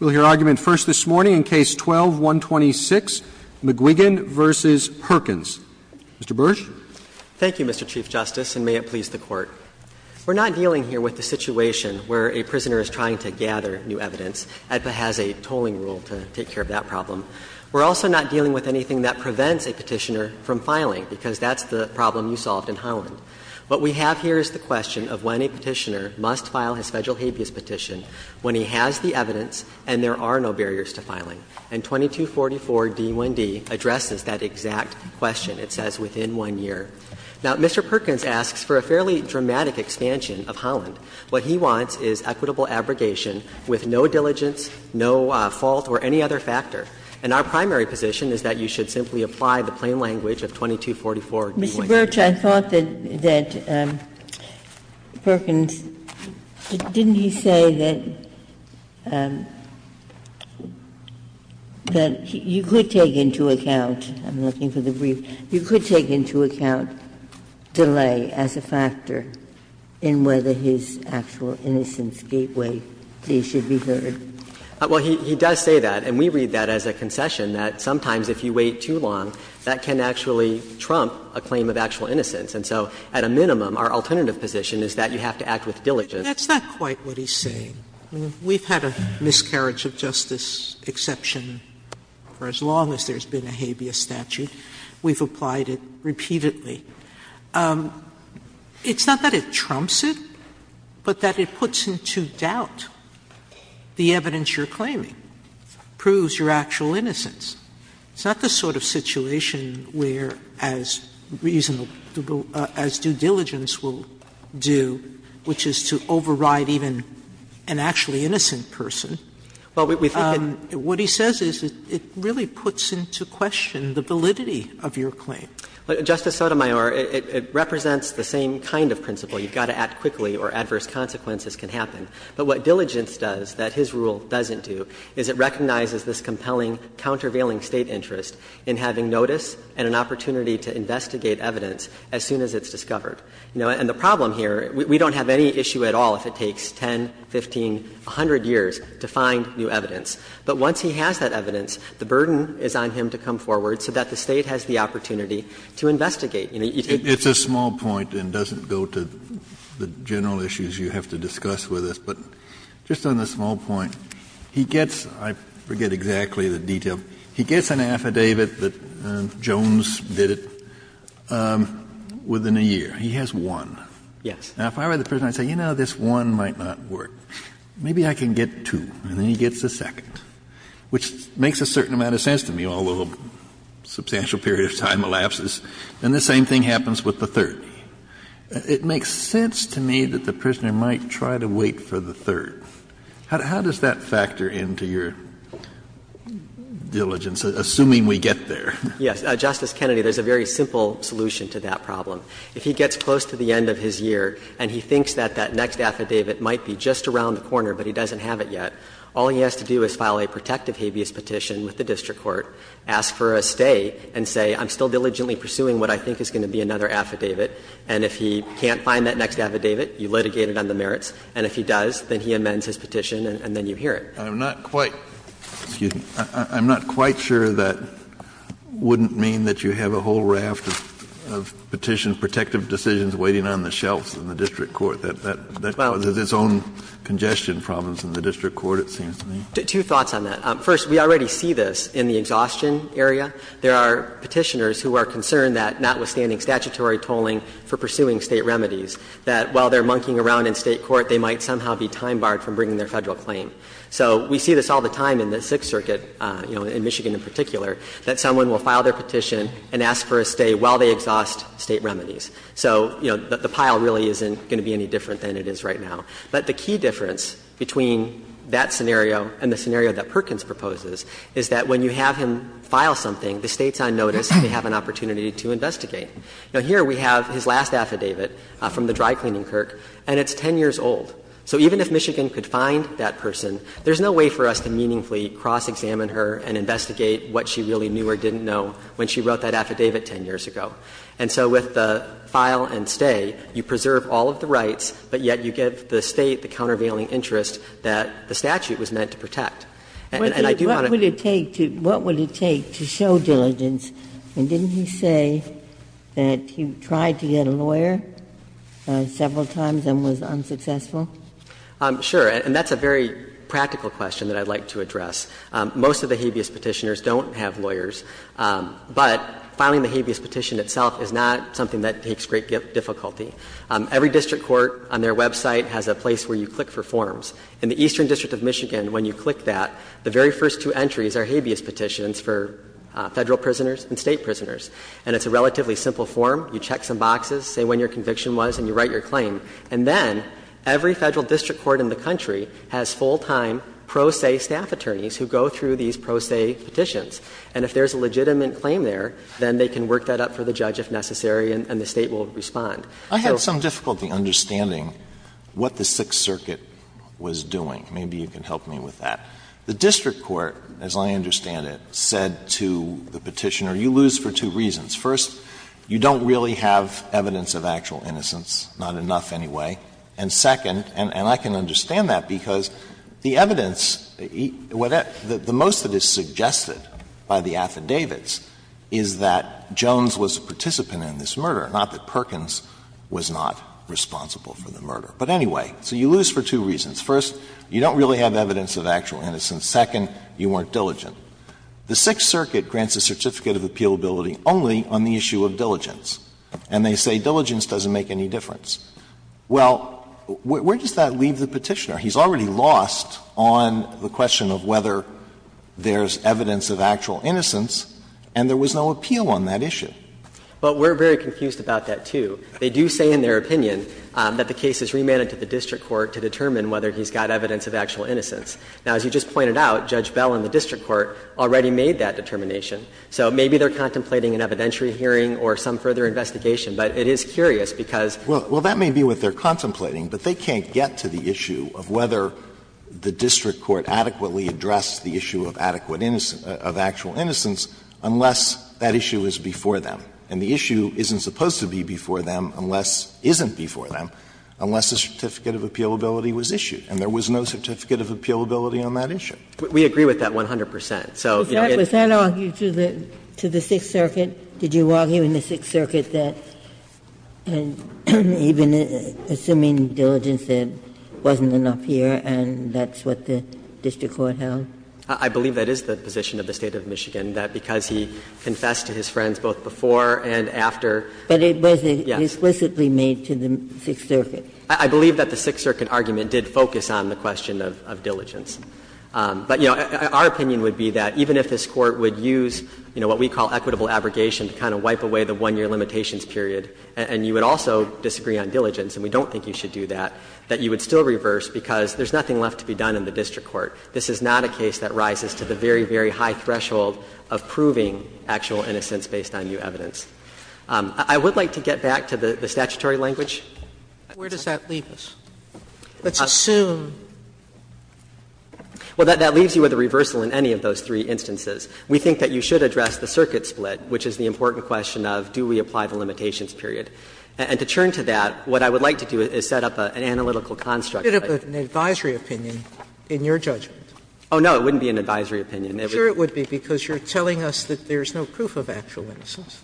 We'll hear argument first this morning in Case 12-126, McQuiggin v. Perkins. Mr. Bursch. Thank you, Mr. Chief Justice, and may it please the Court. We're not dealing here with the situation where a prisoner is trying to gather new evidence. AEDPA has a tolling rule to take care of that problem. We're also not dealing with anything that prevents a petitioner from filing, because that's the problem you solved in Holland. What we have here is the question of when a petitioner must file his Federal habeas petition when he has the evidence and there are no barriers to filing. And 2244d1d addresses that exact question. It says within one year. Now, Mr. Perkins asks for a fairly dramatic expansion of Holland. What he wants is equitable abrogation with no diligence, no fault or any other factor. And our primary position is that you should simply apply the plain language of 2244d1d. Ginsburg, I thought that Perkins, didn't he say that you could take into account – I'm looking for the brief – you could take into account delay as a factor in whether his actual innocence gateway case should be heard? Well, he does say that. And we read that as a concession, that sometimes if you wait too long, that can actually trump a claim of actual innocence. And so at a minimum, our alternative position is that you have to act with diligence. That's not quite what he's saying. We've had a miscarriage of justice exception for as long as there's been a habeas statute. We've applied it repeatedly. It's not that it trumps it, but that it puts into doubt the evidence you're claiming, proves your actual innocence. It's not the sort of situation where as reasonable – as due diligence will do, which is to override even an actually innocent person. What he says is it really puts into question the validity of your claim. Justice Sotomayor, it represents the same kind of principle. You've got to act quickly or adverse consequences can happen. But what diligence does, that his rule doesn't do, is it recognizes this compelling, countervailing State interest in having notice and an opportunity to investigate evidence as soon as it's discovered. And the problem here, we don't have any issue at all if it takes 10, 15, 100 years to find new evidence. But once he has that evidence, the burden is on him to come forward so that the State has the opportunity to investigate. You take the case. Kennedy, you have to discuss with us, but just on the small point, he gets – I forget exactly the detail. He gets an affidavit that Jones did it within a year. He has one. Yes. Now, if I were the prisoner, I'd say, you know, this one might not work. Maybe I can get two. And then he gets a second, which makes a certain amount of sense to me, although a substantial period of time elapses. And the same thing happens with the third. It makes sense to me that the prisoner might try to wait for the third. How does that factor into your diligence, assuming we get there? Yes. Justice Kennedy, there's a very simple solution to that problem. If he gets close to the end of his year and he thinks that that next affidavit might be just around the corner, but he doesn't have it yet, all he has to do is file a protective habeas petition with the district court, ask for a stay, and say, I'm still And if he can't find that next affidavit, you litigate it on the merits. And if he does, then he amends his petition and then you hear it. Kennedy, I'm not quite sure that wouldn't mean that you have a whole raft of petitions, protective decisions waiting on the shelves in the district court. That has its own congestion problems in the district court, it seems to me. Two thoughts on that. First, we already see this in the exhaustion area. There are Petitioners who are concerned that notwithstanding statutory tolling for pursuing State remedies, that while they're monkeying around in State court, they might somehow be time barred from bringing their Federal claim. So we see this all the time in the Sixth Circuit, you know, in Michigan in particular, that someone will file their petition and ask for a stay while they exhaust State remedies. So, you know, the pile really isn't going to be any different than it is right now. But the key difference between that scenario and the scenario that Perkins proposes is that when you have him file something, the State's on notice, they have an opportunity to investigate. Now, here we have his last affidavit from the dry-cleaning clerk, and it's 10 years old. So even if Michigan could find that person, there's no way for us to meaningfully cross-examine her and investigate what she really knew or didn't know when she wrote that affidavit 10 years ago. And so with the file and stay, you preserve all of the rights, but yet you give the State the countervailing interest that the statute was meant to protect. And I do not agree with that. Ginsburg. What would it take to show diligence? And didn't he say that he tried to get a lawyer several times and was unsuccessful? Sure. And that's a very practical question that I'd like to address. Most of the habeas Petitioners don't have lawyers, but filing the habeas petition itself is not something that takes great difficulty. Every district court on their website has a place where you click for forms. In the Eastern District of Michigan, when you click that, the very first two entries are habeas petitions for Federal prisoners and State prisoners. And it's a relatively simple form. You check some boxes, say when your conviction was, and you write your claim. And then every Federal district court in the country has full-time pro se staff attorneys who go through these pro se petitions. And if there's a legitimate claim there, then they can work that up for the judge if necessary, and the State will respond. I had some difficulty understanding what the Sixth Circuit was doing. Maybe you can help me with that. The district court, as I understand it, said to the Petitioner, you lose for two reasons. First, you don't really have evidence of actual innocence, not enough anyway. And second, and I can understand that, because the evidence, the most that is suggested by the affidavits is that Jones was a participant in this murder, not that Perkins was not responsible for the murder. But anyway, so you lose for two reasons. First, you don't really have evidence of actual innocence. Second, you weren't diligent. The Sixth Circuit grants a certificate of appealability only on the issue of diligence. And they say diligence doesn't make any difference. Well, where does that leave the Petitioner? He's already lost on the question of whether there's evidence of actual innocence, and there was no appeal on that issue. But we're very confused about that, too. They do say in their opinion that the case is remanded to the district court to determine whether he's got evidence of actual innocence. Now, as you just pointed out, Judge Bell and the district court already made that determination. So maybe they're contemplating an evidentiary hearing or some further investigation, but it is curious because they're not sure. Alito, well, that may be what they're contemplating, but they can't get to the issue of whether the district court adequately addressed the issue of adequate innocence of actual innocence unless that issue is before them. And the issue isn't supposed to be before them unless isn't before them unless a certificate of appealability was issued. And there was no certificate of appealability on that issue. We agree with that 100 percent. So, you know, it's Was that argued to the Sixth Circuit? Did you argue in the Sixth Circuit that even assuming diligence, it wasn't enough here and that's what the district court held? I believe that is the position of the State of Michigan, that because he confessed to his friends both before and after. But it wasn't explicitly made to the Sixth Circuit. I believe that the Sixth Circuit argument did focus on the question of diligence. But, you know, our opinion would be that even if this Court would use, you know, what we call equitable abrogation to kind of wipe away the one-year limitations period, and you would also disagree on diligence, and we don't think you should do that, that you would still reverse because there's nothing left to be done in the case that rises to the very, very high threshold of proving actual innocence based on new evidence. I would like to get back to the statutory language. Where does that leave us? Let's assume. Well, that leaves you with a reversal in any of those three instances. We think that you should address the circuit split, which is the important question of do we apply the limitations period. And to churn to that, what I would like to do is set up an analytical construct. An advisory opinion in your judgment. Oh, no, it wouldn't be an advisory opinion. It would be because you're telling us that there's no proof of actual innocence.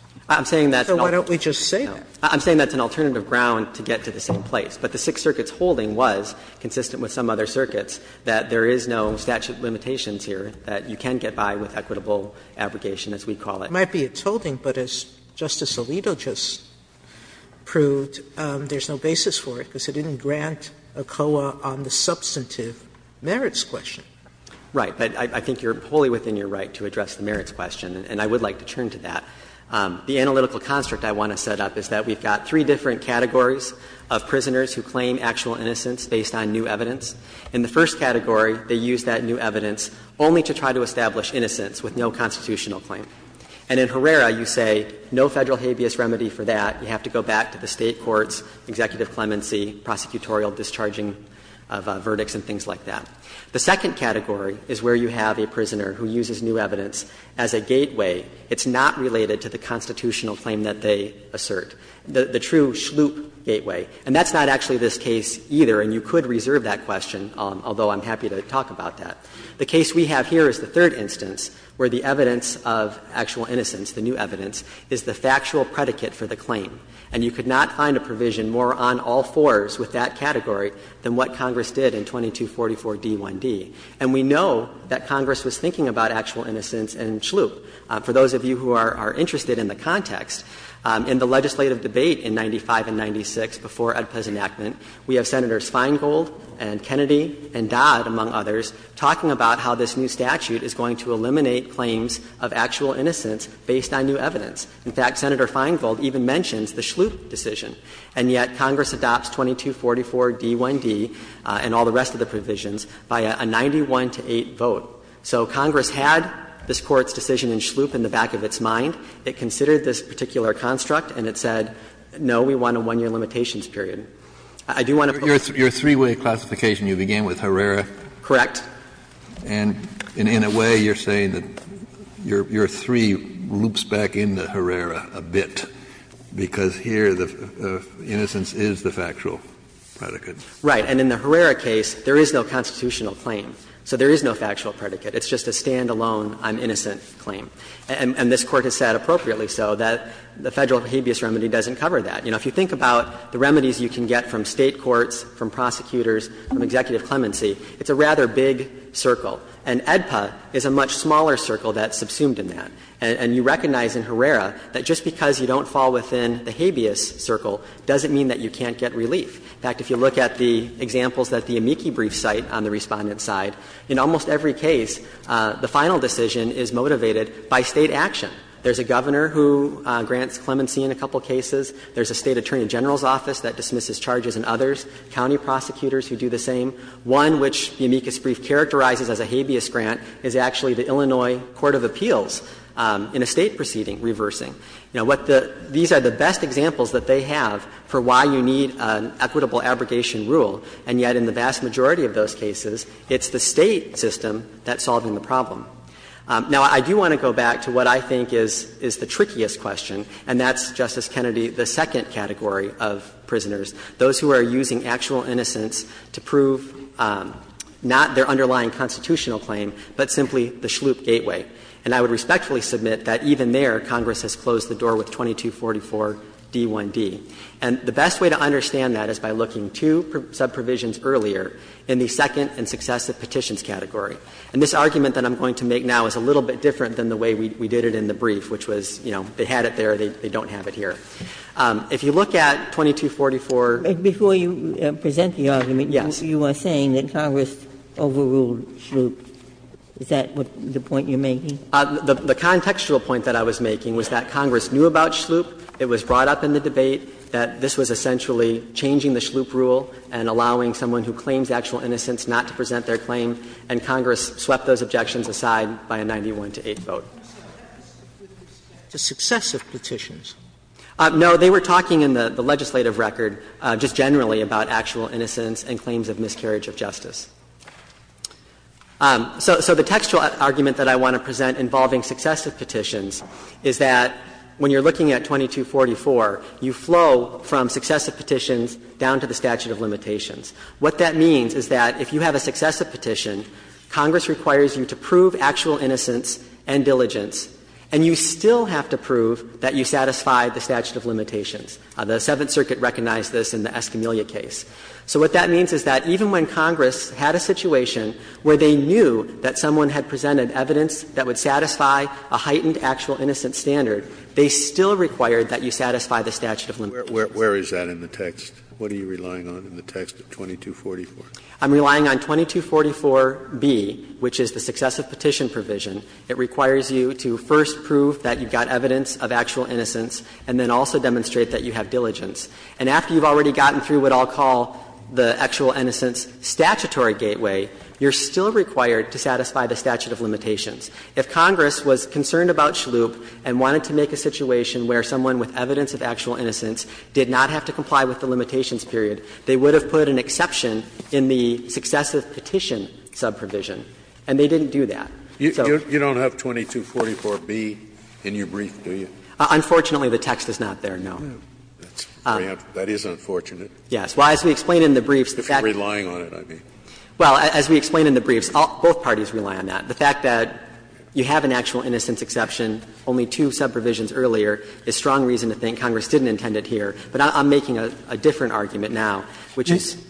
So why don't we just say that? I'm saying that's an alternative ground to get to the same place. But the Sixth Circuit's holding was, consistent with some other circuits, that there is no statute of limitations here that you can get by with equitable abrogation, as we call it. It might be its holding, but as Justice Alito just proved, there's no basis for it because it didn't grant ACOA on the substantive merits question. Right. But I think you're wholly within your right to address the merits question, and I would like to churn to that. The analytical construct I want to set up is that we've got three different categories of prisoners who claim actual innocence based on new evidence. In the first category, they use that new evidence only to try to establish innocence with no constitutional claim. And in Herrera, you say no Federal habeas remedy for that. You have to go back to the State courts, executive clemency, prosecutorial discharging of verdicts and things like that. The second category is where you have a prisoner who uses new evidence as a gateway. It's not related to the constitutional claim that they assert, the true sloop gateway. And that's not actually this case either, and you could reserve that question, although I'm happy to talk about that. The case we have here is the third instance where the evidence of actual innocence, the new evidence, is the factual predicate for the claim. And you could not find a provision more on all fours with that category than what Congress did in 2244d1d. And we know that Congress was thinking about actual innocence and sloop. For those of you who are interested in the context, in the legislative debate in 95 and 96 before Oedepa's enactment, we have Senators Feingold and Kennedy and Dodd, among others, talking about how this new statute is going to eliminate claims of actual innocence based on new evidence. In fact, Senator Feingold even mentions the sloop decision. And yet Congress adopts 2244d1d and all the rest of the provisions by a 91 to 8 vote. So Congress had this Court's decision in sloop in the back of its mind. It considered this particular construct, and it said, no, we want a 1-year limitations I do want to put a point here. Kennedy, your three-way classification, you began with Herrera. Correct. And in a way you're saying that your three loops back into Herrera a bit, because here the innocence is the factual predicate. Right. And in the Herrera case, there is no constitutional claim. So there is no factual predicate. It's just a stand-alone, I'm innocent claim. And this Court has said, appropriately so, that the Federal habeas remedy doesn't cover that. You know, if you think about the remedies you can get from State courts, from prosecutors, from executive clemency, it's a rather big circle. And AEDPA is a much smaller circle that's subsumed in that. And you recognize in Herrera that just because you don't fall within the habeas circle doesn't mean that you can't get relief. In fact, if you look at the examples at the amici brief site on the Respondent's side, in almost every case the final decision is motivated by State action. There's a governor who grants clemency in a couple of cases. There's a State attorney general's office that dismisses charges and others. County prosecutors who do the same. One which the amicus brief characterizes as a habeas grant is actually the Illinois court of appeals in a State proceeding reversing. You know, what the – these are the best examples that they have for why you need an equitable abrogation rule. And yet in the vast majority of those cases, it's the State system that's solving the problem. Now, I do want to go back to what I think is the trickiest question, and that's, Justice Kennedy, the second category of prisoners. Those who are using actual innocence to prove not their underlying constitutional claim, but simply the schloop gateway. And I would respectfully submit that even there, Congress has closed the door with 2244d1d. And the best way to understand that is by looking two sub-provisions earlier in the second and successive petitions category. And this argument that I'm going to make now is a little bit different than the way we did it in the brief, which was, you know, they had it there, they don't have it here. If you look at 2244. Ginsburg. Before you present the argument, you are saying that Congress overruled schloop. Is that the point you're making? The contextual point that I was making was that Congress knew about schloop. It was brought up in the debate that this was essentially changing the schloop rule and allowing someone who claims actual innocence not to present their claim, and Congress swept those objections aside by a 91-to-8 vote. So that was with respect to successive petitions. No. They were talking in the legislative record just generally about actual innocence and claims of miscarriage of justice. So the textual argument that I want to present involving successive petitions is that when you're looking at 2244, you flow from successive petitions down to the statute of limitations. What that means is that if you have a successive petition, Congress requires you to prove actual innocence and diligence, and you still have to prove that you satisfy the statute of limitations. The Seventh Circuit recognized this in the Escamilla case. So what that means is that even when Congress had a situation where they knew that someone had presented evidence that would satisfy a heightened actual innocence standard, they still required that you satisfy the statute of limitations. Where is that in the text? What are you relying on in the text of 2244? I'm relying on 2244B, which is the successive petition provision. It requires you to first prove that you've got evidence of actual innocence and then also demonstrate that you have diligence. And after you've already gotten through what I'll call the actual innocence statutory gateway, you're still required to satisfy the statute of limitations. If Congress was concerned about Shloop and wanted to make a situation where someone with evidence of actual innocence did not have to comply with the limitations period, they would have put an exception in the successive petition subprovision, and they didn't do that. So you don't have 2244B in your brief, do you? Unfortunately, the text is not there, no. That is unfortunate. Yes. Well, as we explain in the briefs, the fact that you have an actual innocence exception, only two subprovisions earlier, is strong reason to think Congress didn't intend it here, but I'm making a different argument. I'm making a different argument now, which is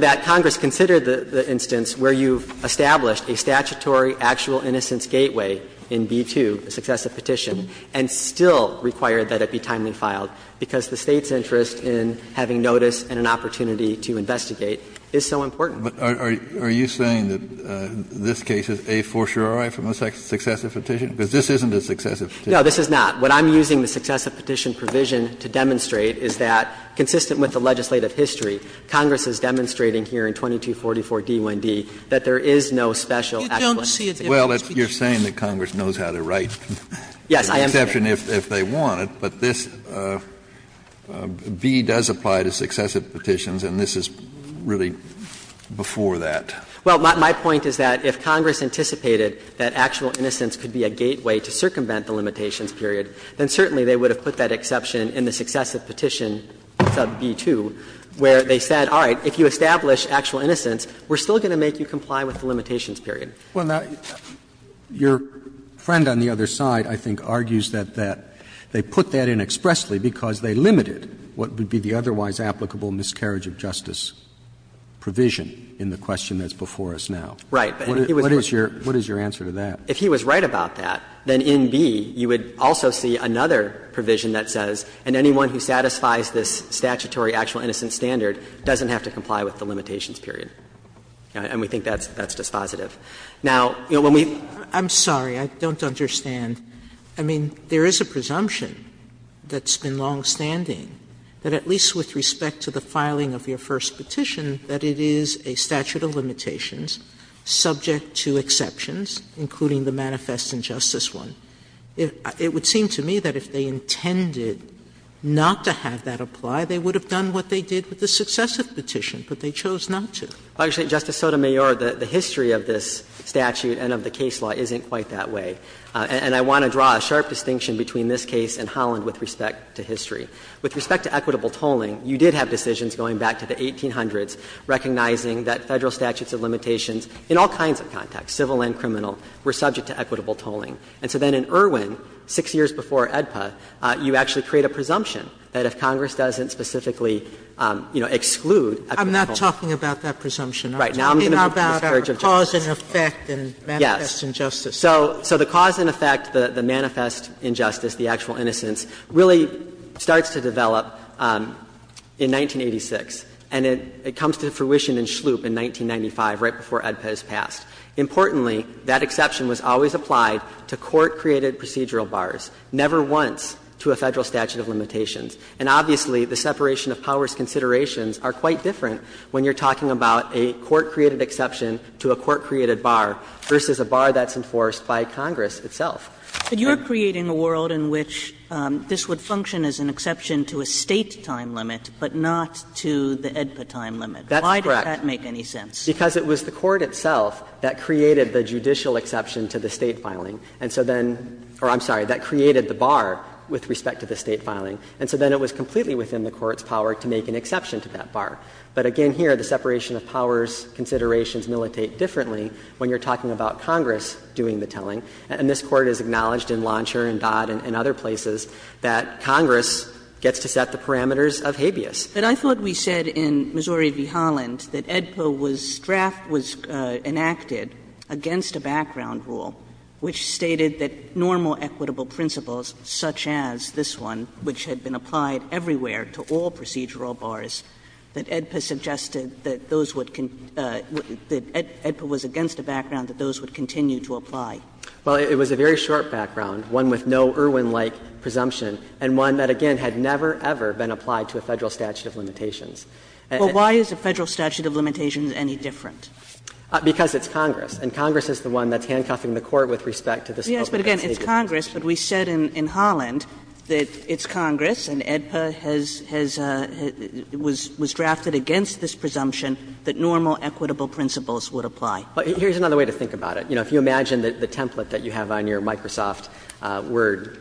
that Congress considered the instance where you've established a statutory actual innocence gateway in B-2, the successive petition, and still required that it be timely filed, because the State's interest in having notice and an opportunity to investigate is so important. But are you saying that this case is a fortiori from a successive petition? Because this isn't a successive petition. No, this is not. What I'm using the successive petition provision to demonstrate is that, consistent with the legislative history, Congress is demonstrating here in 2244D1D that there is no special actual innocence gateway. Well, you're saying that Congress knows how to write an exception if they want it. But this B does apply to successive petitions, and this is really before that. Well, my point is that if Congress anticipated that actual innocence could be a gateway to circumvent the limitations period, then certainly they would have put that exception in the successive petition, sub B-2, where they said, all right, if you establish actual innocence, we're still going to make you comply with the limitations period. Well, now, your friend on the other side, I think, argues that they put that in expressly because they limited what would be the otherwise applicable miscarriage of justice provision in the question that's before us now. Right. But he was right. What is your answer to that? If he was right about that, then in B you would also see another provision that says, and anyone who satisfies this statutory actual innocence standard doesn't have to comply with the limitations period. And we think that's dispositive. Now, you know, when we've Sotomayor I'm sorry, I don't understand. I mean, there is a presumption that's been longstanding that at least with respect to exceptions, including the manifest injustice one, it would seem to me that if they intended not to have that apply, they would have done what they did with the successive petition, but they chose not to. Actually, Justice Sotomayor, the history of this statute and of the case law isn't quite that way. And I want to draw a sharp distinction between this case and Holland with respect to history. With respect to equitable tolling, you did have decisions going back to the 1800s recognizing that Federal statutes of limitations in all kinds of contexts, civil and criminal, were subject to equitable tolling. And so then in Irwin, 6 years before AEDPA, you actually create a presumption that if Congress doesn't specifically, you know, exclude equitable tolling. Sotomayor I'm not talking about that presumption. I'm talking about the cause and effect and manifest injustice. So the cause and effect, the manifest injustice, the actual innocence, really starts to develop in 1986, and it comes to fruition in Schlup in 1995, right before AEDPA is passed. Importantly, that exception was always applied to court-created procedural bars, never once to a Federal statute of limitations. And obviously, the separation of powers considerations are quite different when you're talking about a court-created exception to a court-created bar versus a bar that's enforced by Congress itself. And you're creating a world in which this would function as an exception to a State time limit, but not to the AEDPA time limit. Why does that make any sense? That's correct. Because it was the court itself that created the judicial exception to the State filing. And so then or I'm sorry, that created the bar with respect to the State filing. And so then it was completely within the court's power to make an exception to that bar. But again here, the separation of powers considerations militate differently when you're talking about Congress doing the telling. And this Court has acknowledged in Launcher and Dodd and other places that Congress gets to set the parameters of habeas. Kagan But I thought we said in Missouri v. Holland that AEDPA was drafted, was enacted against a background rule which stated that normal equitable principles, such as this one, which had been applied everywhere to all procedural bars, that AEDPA suggested that those would con that AEDPA was against a background that those would continue to apply. Well, it was a very short background, one with no Irwin-like presumption, and one that again had never, ever been applied to a Federal statute of limitations. And Well, why is a Federal statute of limitations any different? Because it's Congress. And Congress is the one that's handcuffing the Court with respect to this open and stated presumption. Yes, but again, it's Congress, but we said in Holland that it's Congress and AEDPA has, has, was, was drafted against this presumption that normal equitable principles would apply. But here's another way to think about it. You know, if you imagine the template that you have on your Microsoft Word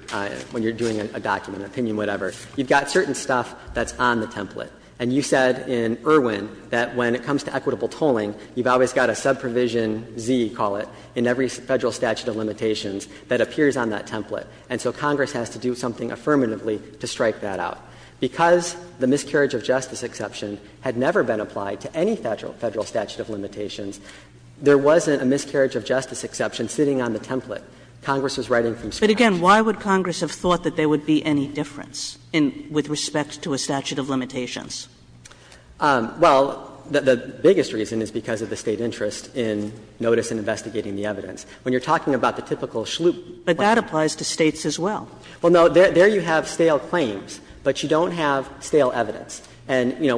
when you're doing a document, opinion, whatever, you've got certain stuff that's on the template. And you said in Irwin that when it comes to equitable tolling, you've always got a subprovision Z, call it, in every Federal statute of limitations that appears on that template. And so Congress has to do something affirmatively to strike that out. Because the miscarriage of justice exception had never been applied to any Federal statute of limitations. There wasn't a miscarriage of justice exception sitting on the template. Congress was writing from scratch. But again, why would Congress have thought that there would be any difference in, with respect to a statute of limitations? Well, the biggest reason is because of the State interest in notice and investigating the evidence. When you're talking about the typical Schlup plan. But that applies to States as well. Well, no, there you have stale claims, but you don't have stale evidence. And, you know,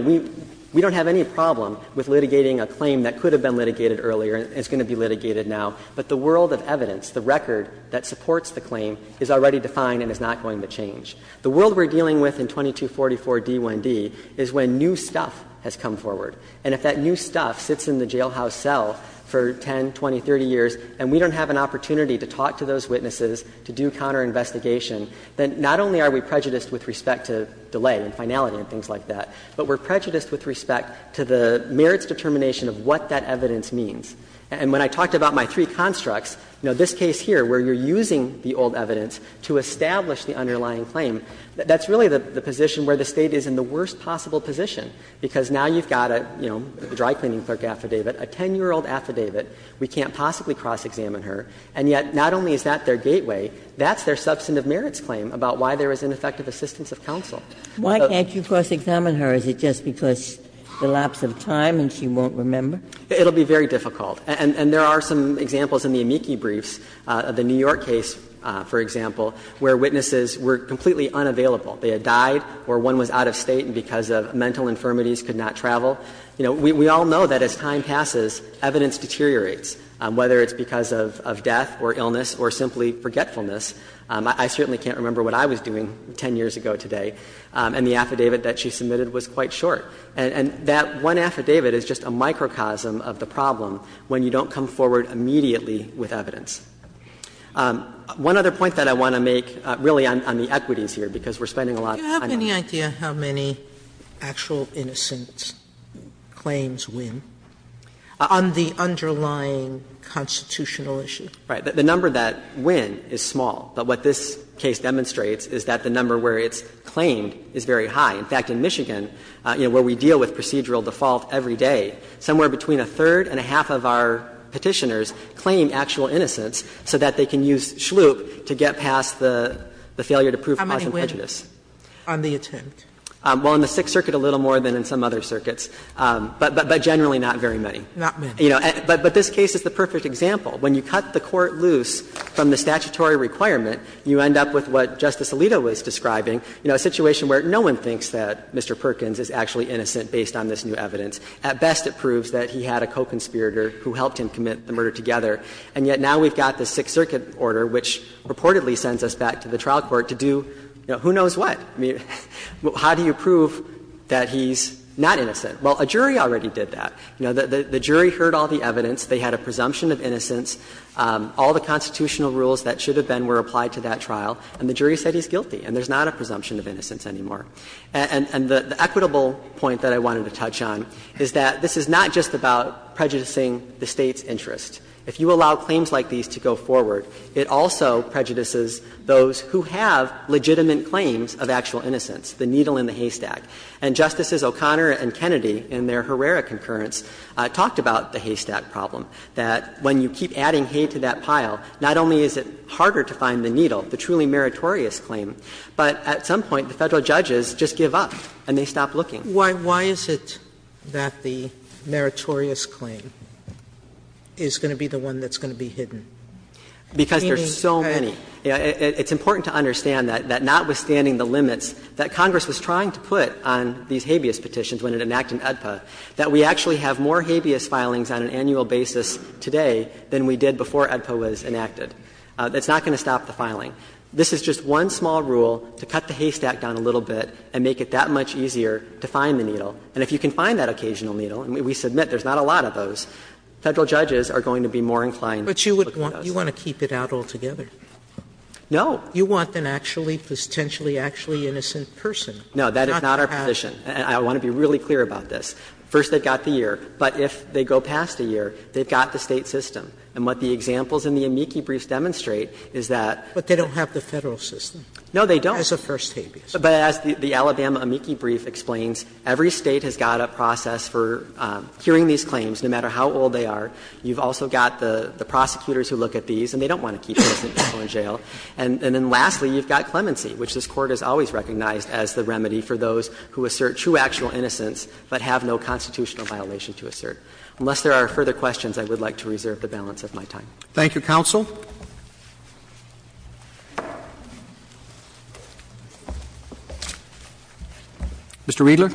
we don't have any problem with litigating a claim that could have been litigated earlier and is going to be litigated now. But the world of evidence, the record that supports the claim is already defined and is not going to change. The world we're dealing with in 2244d1d is when new stuff has come forward. And if that new stuff sits in the jailhouse cell for 10, 20, 30 years and we don't have an opportunity to talk to those witnesses, to do counterinvestigation, then not only are we prejudiced with respect to delay and finality and things like that, but we're prejudiced with respect to the merits determination of what that evidence means. And when I talked about my three constructs, you know, this case here where you're using the old evidence to establish the underlying claim, that's really the position where the State is in the worst possible position, because now you've got a, you know, a dry-cleaning clerk affidavit, a 10-year-old affidavit. We can't possibly cross-examine her. And yet not only is that their gateway, that's their substantive merits claim about why there is ineffective assistance of counsel. Why can't you cross-examine her? Is it just because the lapse of time and she won't remember? It will be very difficult. And there are some examples in the amici briefs of the New York case, for example, where witnesses were completely unavailable. They had died or one was out of State and because of mental infirmities could not travel. You know, we all know that as time passes, evidence deteriorates, whether it's because of death or illness or simply forgetfulness. I certainly can't remember what I was doing 10 years ago today. And the affidavit that she submitted was quite short. And that one affidavit is just a microcosm of the problem when you don't come forward immediately with evidence. One other point that I want to make, really on the equities here, because we're spending a lot of time on that. Sotomayor, do you have any idea how many actual innocent claims win on the underlying constitutional issue? Right. The number that win is small. But what this case demonstrates is that the number where it's claimed is very high. In fact, in Michigan, you know, where we deal with procedural default every day, somewhere between a third and a half of our Petitioners claim actual innocence so that they can use SHLUIP to get past the failure to prove cause and prejudice. How many win on the attempt? Well, in the Sixth Circuit a little more than in some other circuits, but generally not very many. Not many. You know, but this case is the perfect example. When you cut the Court loose from the statutory requirement, you end up with what Justice Alito was describing, you know, a situation where no one thinks that Mr. Perkins is actually innocent based on this new evidence. At best, it proves that he had a co-conspirator who helped him commit the murder together, and yet now we've got this Sixth Circuit order which reportedly sends us back to the trial court to do, you know, who knows what. I mean, how do you prove that he's not innocent? Well, a jury already did that. You know, the jury heard all the evidence. They had a presumption of innocence. All the constitutional rules that should have been were applied to that trial, and the jury said he's guilty, and there's not a presumption of innocence anymore. And the equitable point that I wanted to touch on is that this is not just about prejudicing the State's interest. If you allow claims like these to go forward, it also prejudices those who have legitimate claims of actual innocence, the needle in the haystack. And Justices O'Connor and Kennedy in their Herrera concurrence talked about the haystack problem, that when you keep adding hay to that pile, not only is it harder to find the needle, the truly meritorious claim, but at some point the Federal judges just give up and they stop looking. Sotomayor Why is it that the meritorious claim is going to be the one that's going Meaning that they're not going to be able to prove that they're innocent? Because there's so many. It's important to understand that notwithstanding the limits that Congress was trying to put on these habeas petitions when it enacted UDPA, that we actually have more of an occasional basis today than we did before UDPA was enacted. That's not going to stop the filing. This is just one small rule to cut the haystack down a little bit and make it that much easier to find the needle. And if you can find that occasional needle, and we submit there's not a lot of those, Federal judges are going to be more inclined to look at those. Sotomayor But you would want to keep it out altogether. No. Sotomayor You want an actually, potentially actually innocent person. No, that is not our position, and I want to be really clear about this. First, they've got the year, but if they go past a year, they've got the State system. And what the examples in the amici briefs demonstrate is that Sotomayor But they don't have the Federal system. No, they don't. Sotomayor As a first habeas. But as the Alabama amici brief explains, every State has got a process for curing these claims, no matter how old they are. You've also got the prosecutors who look at these, and they don't want to keep innocent people in jail. And then lastly, you've got clemency, which this Court has always recognized as the remedy for those who assert true, actual innocence, but have no constitutional violation to assert. Unless there are further questions, I would like to reserve the balance of my time. Thank you, counsel. Mr. Riedler.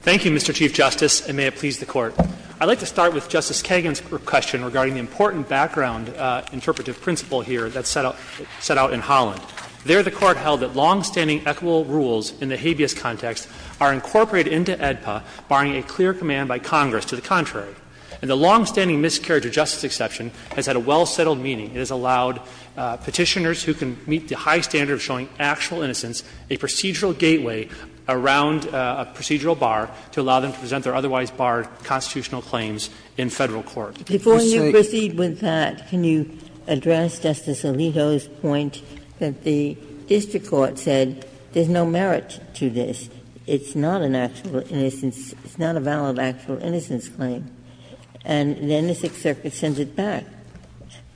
Thank you, Mr. Chief Justice, and may it please the Court. I'd like to start with Justice Kagan's question regarding the important background interpretive principle here that's set out in Holland. There, the Court held that longstanding equitable rules in the habeas context are incorporated into AEDPA, barring a clear command by Congress to the contrary. And the longstanding miscarriage of justice exception has had a well-settled meaning. It has allowed Petitioners who can meet the high standard of showing actual innocence a procedural gateway around a procedural bar to allow them to present their otherwise barred constitutional claims in Federal court. Before you proceed with that, can you address Justice Alito's point that the district court said there's no merit to this, it's not an actual innocence, it's not a valid actual innocence claim, and then the Sixth Circuit sends it back.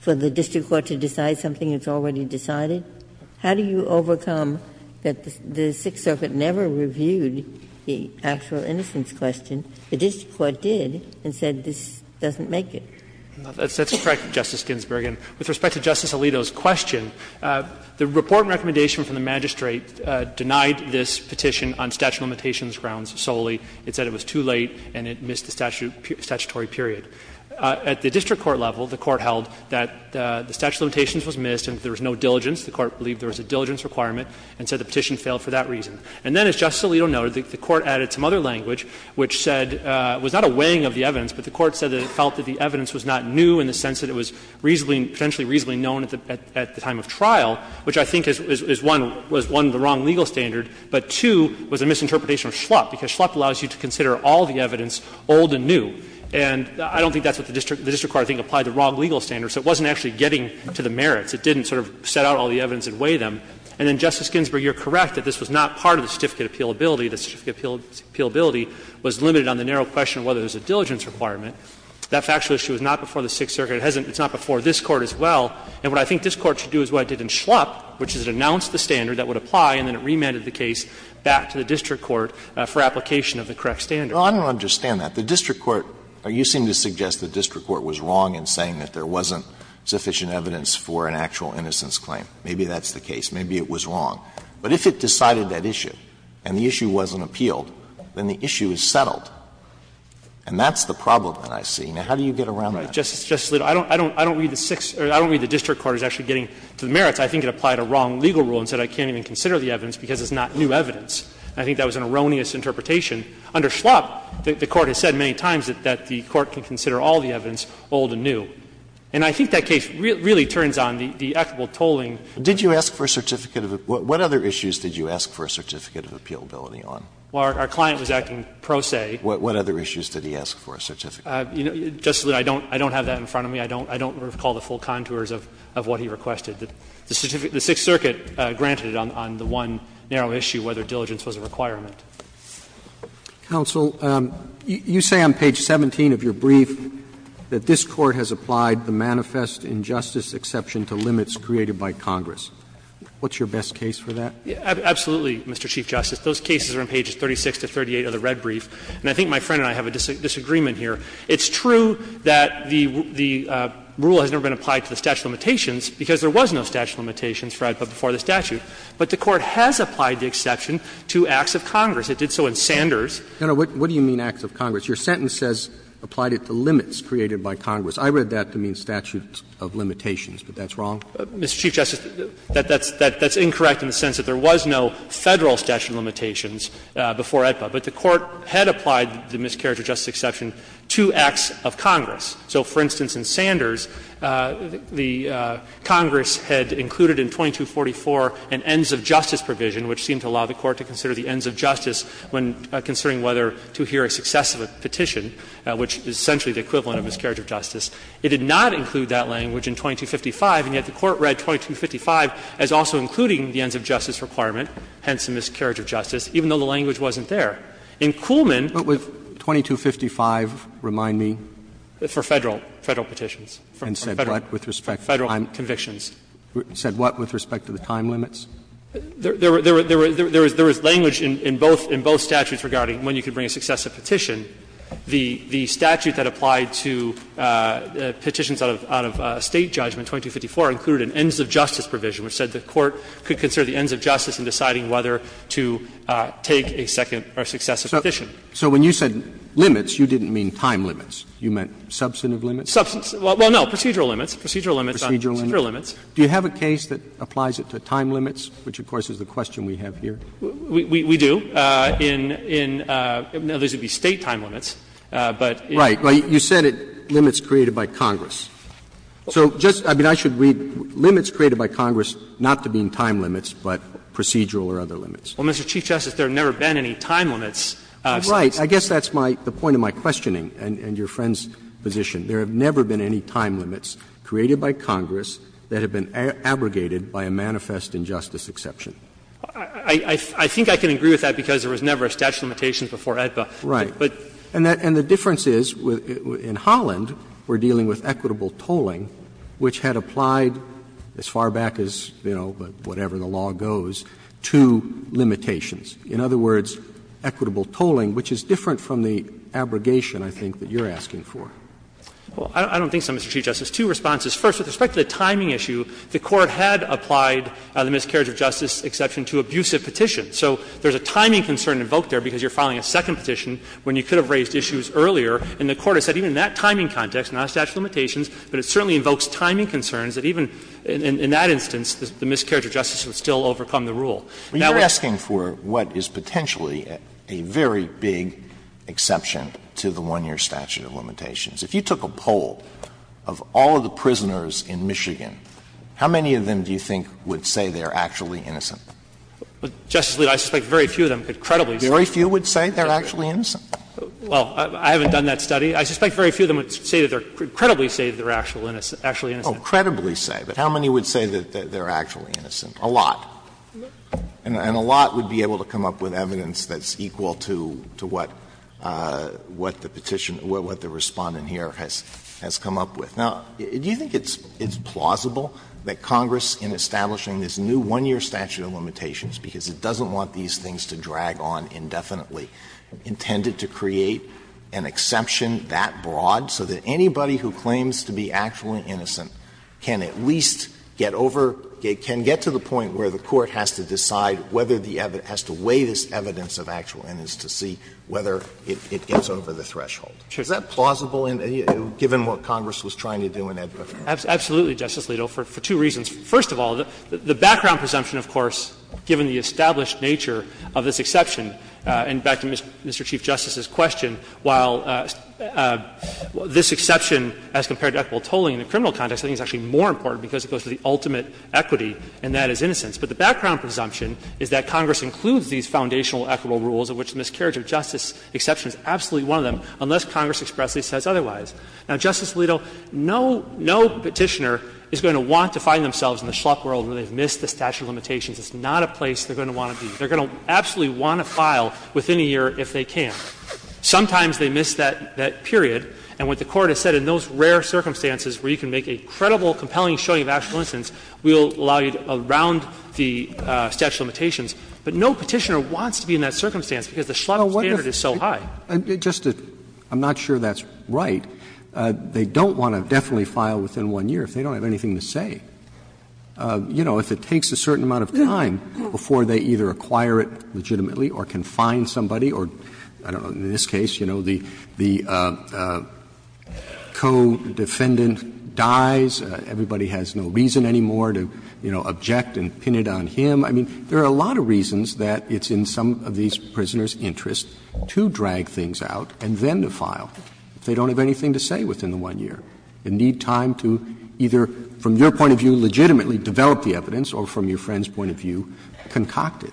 For the district court to decide something that's already decided, how do you overcome that the Sixth Circuit never reviewed the actual innocence question, the district court did, and said this doesn't make it? That's correct, Justice Ginsburg. And with respect to Justice Alito's question, the report and recommendation from the magistrate denied this petition on statute of limitations grounds solely. It said it was too late and it missed the statutory period. At the district court level, the Court held that the statute of limitations was missed and there was no diligence. The Court believed there was a diligence requirement and said the petition failed for that reason. And then, as Justice Alito noted, the Court added some other language which said it was not a weighing of the evidence, but the Court said that it felt that the evidence was not new in the sense that it was reasonably, potentially reasonably known at the time of trial, which I think is one, was one, the wrong legal standard, but two, was a misinterpretation of schlup, because schlup allows you to consider all the evidence old and new. And I don't think that's what the district court, I think, applied, the wrong legal standard, so it wasn't actually getting to the merits. It didn't sort of set out all the evidence and weigh them. And so, I think, in the case of the district court, the factually issue was not before the Sixth Circuit appealability. The certificate of appealability was limited on the narrow question of whether there's a diligence requirement. That factually issue was not before the Sixth Circuit. It hasn't been before this Court as well. And what I think this Court should do is what it did in schlup, which is it announced the standard that would apply and then it remanded the case back to the district court for application of the correct standard. Alito, I don't understand that. The district court or you seem to suggest the district court was wrong in saying that there wasn't sufficient evidence for an actual innocence claim. Maybe that's the case. Maybe it was wrong. But if it decided that issue and the issue wasn't appealed, then the issue is settled. And that's the problem that I see. Now, how do you get around that? Fisherman, I don't read the district court as actually getting to the merits. I think it applied a wrong legal rule and said I can't even consider the evidence because it's not new evidence. I think that was an erroneous interpretation. Under schlup, the Court has said many times that the Court can consider all the evidence old and new. And I think that case really turns on the equitable tolling. Did you ask for a certificate of – what other issues did you ask for a certificate of appealability on? Well, our client was acting pro se. What other issues did he ask for a certificate of appealability on? Justice Alito, I don't have that in front of me. I don't recall the full contours of what he requested. The Sixth Circuit granted it on the one narrow issue, whether diligence was a requirement. Counsel, you say on page 17 of your brief that this Court has applied the manifest injustice exception to limits created by Congress. What's your best case for that? Absolutely, Mr. Chief Justice. Those cases are on pages 36 to 38 of the red brief. And I think my friend and I have a disagreement here. It's true that the rule has never been applied to the statute of limitations because there was no statute of limitations before the statute. But the Court has applied the exception to acts of Congress. It did so in Sanders. No, no. What do you mean acts of Congress? Your sentence says applied it to limits created by Congress. I read that to mean statute of limitations, but that's wrong? Mr. Chief Justice, that's incorrect in the sense that there was no Federal statute of limitations before AEDPA. But the Court had applied the miscarriage of justice exception to acts of Congress. So, for instance, in Sanders, the Congress had included in 2244 an ends of justice provision, which seemed to allow the Court to consider the ends of justice when considering whether to hear a success of a petition, which is essentially the equivalent of miscarriage of justice. It did not include that language in 2255, and yet the Court read 2255 as also including the ends of justice requirement, hence the miscarriage of justice, even though the language wasn't there. In Kuhlman the language was not included in 2255, and yet the Court read 2255 as also included in 2254 for Federal petitions. Roberts And said what with respect to time? Mr. Chief Justice, said what with respect to the time limits? Mr. Chief Justice, there was language in both statutes regarding when you could bring a success of petition. The statute that applied to petitions out of State judgment, 2254, included an ends of justice provision, which said the Court could consider the ends of justice in deciding whether to take a success of petition. Roberts So when you said limits, you didn't mean time limits. You meant substantive limits? Mr. Chief Justice, well, no, procedural limits. Procedural limits on procedural limits. Roberts Do you have a case that applies it to time limits, which of course is the question we have here? Mr. Chief Justice, we do. In other words, it would be State time limits, but it's not. Roberts Right. Well, you said limits created by Congress. So just – I mean, I should read limits created by Congress not to mean time limits, but procedural or other limits. Mr. Chief Justice, there have never been any time limits. Roberts Right. I guess that's my – the point of my questioning and your friend's position. There have never been any time limits created by Congress that have been abrogated by a manifest injustice exception. Mr. Chief Justice, I think I can agree with that because there was never a statute of limitations before AEDPA. Roberts Right. And the difference is, in Holland, we're dealing with equitable tolling, which had applied as far back as, you know, whatever the law goes, to limitations. In other words, equitable tolling, which is different from the abrogation, I think, that you're asking for. Well, I don't think so, Mr. Chief Justice. Two responses. First, with respect to the timing issue, the Court had applied the miscarriage of justice exception to abusive petitions. So there's a timing concern invoked there because you're filing a second petition when you could have raised issues earlier, and the Court has said even in that timing context, not a statute of limitations, but it certainly invokes timing concerns that even in that instance, the miscarriage of justice would still overcome the rule. You're asking for what is potentially a very big exception to the 1-year statute of limitations. If you took a poll of all of the prisoners in Michigan, how many of them do you think would say they are actually innocent? Justice Alito, I suspect very few of them could credibly say. Very few would say they are actually innocent? Well, I haven't done that study. I suspect very few of them would say that they are – credibly say that they are actually innocent. Oh, credibly say. But how many would say that they are actually innocent? A lot. And a lot would be able to come up with evidence that's equal to what the petition – what the Respondent here has come up with. Now, do you think it's plausible that Congress, in establishing this new 1-year statute of limitations, because it doesn't want these things to drag on indefinitely, intended to create an exception that broad so that anybody who claims to be actually innocent can at least get over – can get to the point where the court has to decide whether the evidence – has to weigh this evidence of actual innocence to see whether it gets over the threshold? Is that plausible, given what Congress was trying to do in Edward? Absolutely, Justice Alito, for two reasons. First of all, the background presumption, of course, given the established nature of this exception, and back to Mr. Chief Justice's question, while this exception as compared to equitable tolling in the criminal context, I think it's actually more important because it goes to the ultimate equity, and that is innocence. But the background presumption is that Congress includes these foundational equitable rules, of which the miscarriage of justice exception is absolutely one of them, unless Congress expressly says otherwise. Now, Justice Alito, no – no Petitioner is going to want to find themselves in the schluck world where they've missed the statute of limitations. It's not a place they're going to want to be. They're going to absolutely want to file within a year if they can. Sometimes they miss that period, and what the Court has said, in those rare circumstances where you can make a credible, compelling showing of actual innocence, we'll allow you to round the statute of limitations. But no Petitioner wants to be in that circumstance because the schluck standard is so high. Roberts. Just to – I'm not sure that's right. They don't want to definitely file within one year if they don't have anything to say. You know, if it takes a certain amount of time before they either acquire it legitimately or can find somebody or, I don't know, in this case, you know, the – the co-defendant dies, everybody has no reason anymore to, you know, object and pin it on him. I mean, there are a lot of reasons that it's in some of these prisoners' interests to drag things out and then to file if they don't have anything to say within the one year. They need time to either, from your point of view, legitimately develop the evidence or, from your friend's point of view, concoct it.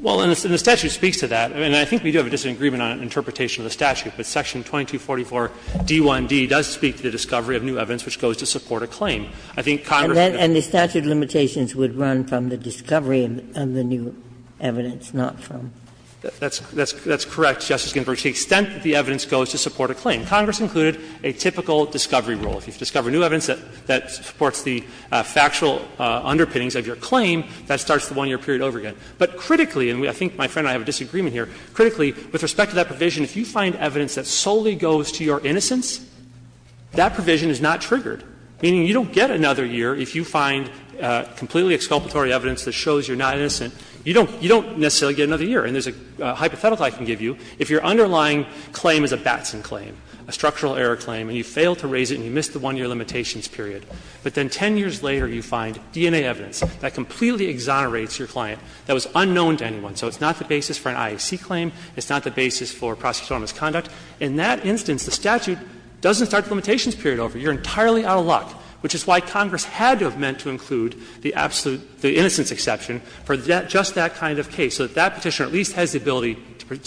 Well, and the statute speaks to that. And I think we do have a disagreement on an interpretation of the statute, but section 2244d1d does speak to the discovery of new evidence which goes to support a claim. I think Congress didn't. And the statute of limitations would run from the discovery of the new evidence, not from. That's correct, Justice Ginsburg, to the extent that the evidence goes to support a claim. Congress included a typical discovery rule. If you discover new evidence that supports the factual underpinnings of your claim, that starts the one-year period over again. But critically, and I think my friend and I have a disagreement here, critically, with respect to that provision, if you find evidence that solely goes to your innocence, that provision is not triggered. Meaning you don't get another year if you find completely exculpatory evidence that shows you're not innocent. You don't necessarily get another year. And there's a hypothetical I can give you. If your underlying claim is a Batson claim, a structural error claim, and you fail to raise it and you miss the one-year limitations period, but then 10 years later you find DNA evidence that completely exonerates your client that was unknown to anyone. So it's not the basis for an IAC claim. It's not the basis for prosecutorial misconduct. In that instance, the statute doesn't start the limitations period over. You're entirely out of luck, which is why Congress had to have meant to include the absolute, the innocence exception for just that kind of case, so that that Petitioner at least has the ability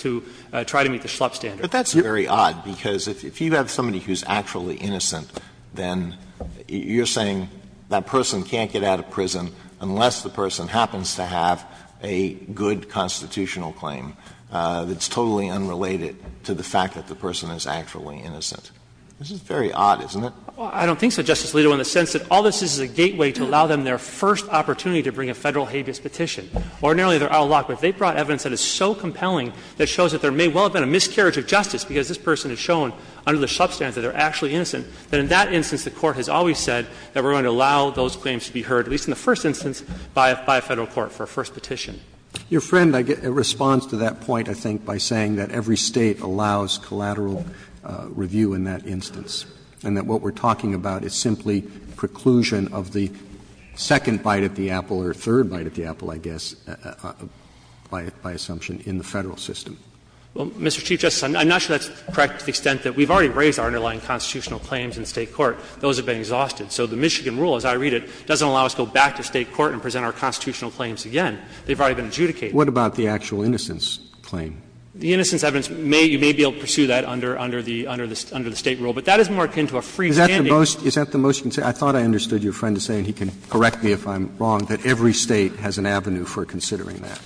to try to meet the Schlupp standard. Alitoson But that's very odd, because if you have somebody who's actually innocent, then you're saying that person can't get out of prison unless the person happens to have a good constitutional claim that's totally unrelated to the fact that the person is actually innocent. This is very odd, isn't it? I don't think so, Justice Alito, in the sense that all this is is a gateway to allow them their first opportunity to bring a Federal habeas petition. Ordinarily, they're out of luck. But if they brought evidence that is so compelling that shows that there may well have been a miscarriage of justice because this person has shown under the Schlupp standards that they're actually innocent, then in that instance the Court has always said that we're going to allow those claims to be heard, at least in the first instance, by a Federal court for a first petition. Roberts' Your friend responds to that point, I think, by saying that every State allows collateral review in that instance, and that what we're talking about is simply preclusion of the second bite at the apple, or third bite at the apple, I guess, by assumption, in the Federal system. Alitoson Well, Mr. Chief Justice, I'm not sure that's correct to the extent that we've already raised our underlying constitutional claims in State court. Those have been exhausted. So the Michigan rule, as I read it, doesn't allow us to go back to State court and present our constitutional claims again. They've already been adjudicated. Roberts What about the actual innocence claim? Alitoson The innocence evidence, you may be able to pursue that under the State rule, but that is more akin to a free standing. Roberts Is that the most concerning? I thought I understood your friend as saying, and he can correct me if I'm wrong, that every State has an avenue for considering that.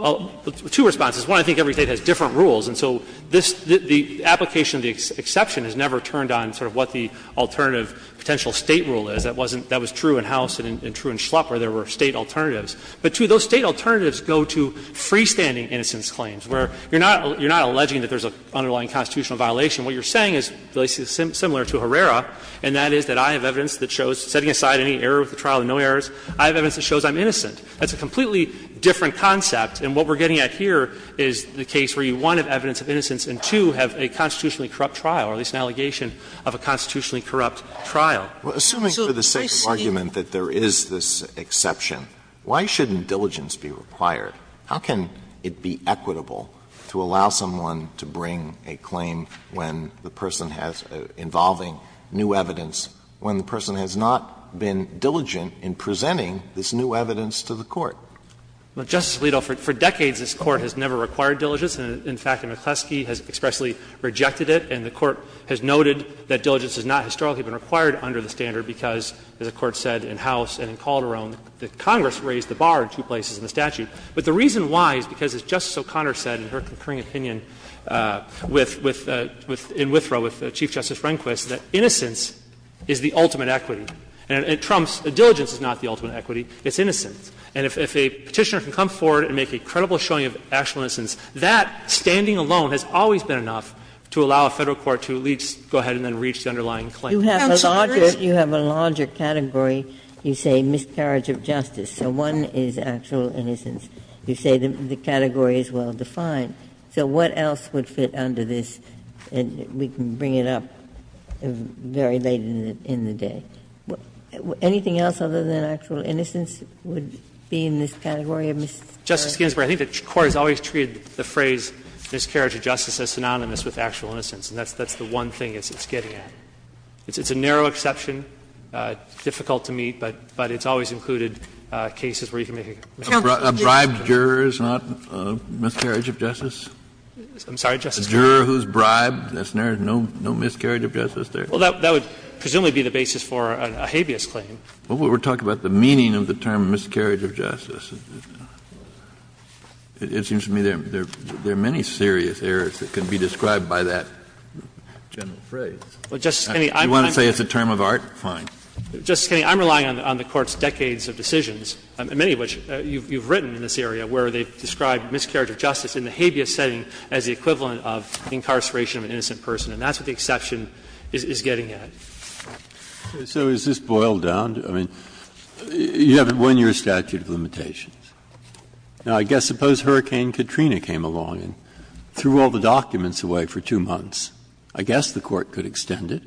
Alitoson Well, two responses. One, I think every State has different rules. And so this, the application of the exception has never turned on sort of what the alternative potential State rule is. That wasn't, that was true in House and true in Schlupp where there were State alternatives. But, two, those State alternatives go to freestanding innocence claims, where you're not, you're not alleging that there's an underlying constitutional violation. What you're saying is, similar to Herrera, and that is that I have evidence that shows, setting aside any error with the trial and no errors, I have evidence that shows I'm innocent. That's a completely different concept, and what we're getting at here is the case where you, one, have evidence of innocence and, two, have a constitutionally corrupt trial, or at least an allegation of a constitutionally corrupt trial. Alitoson Well, assuming for the sake of argument that there is this exception, why shouldn't diligence be required? How can it be equitable to allow someone to bring a claim when the person has, involving new evidence, when the person has not been diligent in presenting this new evidence to the court? Fisherman Well, Justice Alito, for decades this Court has never required diligence. In fact, McCleskey has expressly rejected it, and the Court has noted that diligence has not historically been required under the standard because, as the Court said in House and in Calderon, that Congress raised the bar in two places in the statute. But the reason why is because, as Justice O'Connor said in her concurring opinion with, with, in Withrow with Chief Justice Rehnquist, that innocence is the ultimate equity. And if a Petitioner can come forward and make a credible showing of actual innocence, that standing alone has always been enough to allow a Federal court to at least go ahead and then reach the underlying claim. Ginsburg You have a larger, you have a larger category, you say miscarriage of justice. So one is actual innocence. You say the category is well defined. So what else would fit under this? And we can bring it up very late in the day. Anything else other than actual innocence would be in this category of miscarriage? McCleskey Justice Ginsburg, I think the Court has always treated the phrase miscarriage of justice as synonymous with actual innocence, and that's the one thing it's getting at. It's a narrow exception, difficult to meet, but it's always included cases where you can make a miscarriage of justice. Kennedy A bribed juror is not a miscarriage of justice? McCleskey I'm sorry, Justice Kennedy. Kennedy A juror who's bribed, there's no miscarriage of justice there. McCleskey Well, that would presumably be the basis for a habeas claim. Kennedy Well, we're talking about the meaning of the term miscarriage of justice. It seems to me there are many serious errors that can be described by that general phrase. McCleskey Well, Justice Kennedy, I'm relying on the Court's decades of decisions, many of which you've written in this area, where they've described miscarriage of justice in the habeas setting as the equivalent of incarceration of an innocent person, and that's what the exception is getting at. Breyer So is this boiled down? I mean, you have it when you're a statute of limitations. Now, I guess suppose Hurricane Katrina came along and threw all the documents away for two months. I guess the Court could extend it,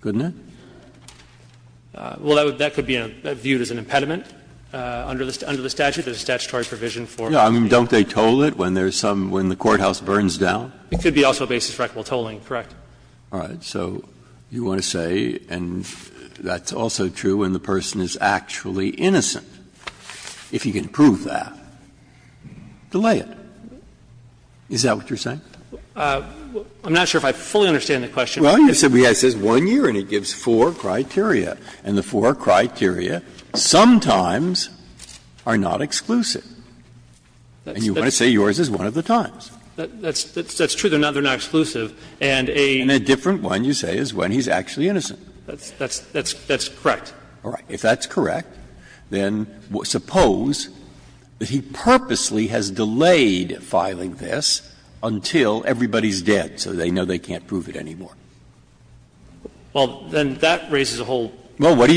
couldn't it? McCleskey Well, that could be viewed as an impediment under the statute. There's a statutory provision for it. Breyer I mean, don't they toll it when there's some, when the courthouse burns down? McCleskey It could be also a basis for equitable tolling, correct. Breyer All right. So you want to say, and that's also true when the person is actually innocent. If you can prove that, delay it. Is that what you're saying? McCleskey I'm not sure if I fully understand the question. Breyer Well, you said it says 1 year and it gives four criteria, and the four criteria sometimes are not exclusive. And you want to say yours is one of the times. McCleskey That's true. They're not exclusive. And a ---- Breyer And a different one, you say, is when he's actually innocent. McCleskey That's correct. Breyer All right. If that's correct, then suppose that he purposely has delayed filing this until everybody's dead, so they know they can't prove it anymore. McCleskey Well, then that raises a whole different range of questions. Breyer Well, what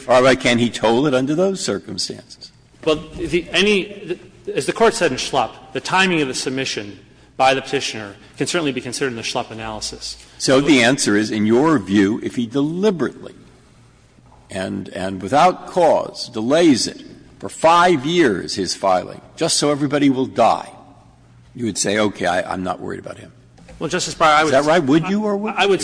is your answer? Can he toll it under those circumstances? McCleskey Well, the any ---- as the Court said in Schlupp, the timing of the submission by the Petitioner can certainly be considered in the Schlupp analysis. Breyer So the answer is, in your view, if he deliberately and without cause delays it for 5 years, his filing, just so everybody will die, you would say, okay, I'm not worried about him. McCleskey Well, Justice Breyer, I would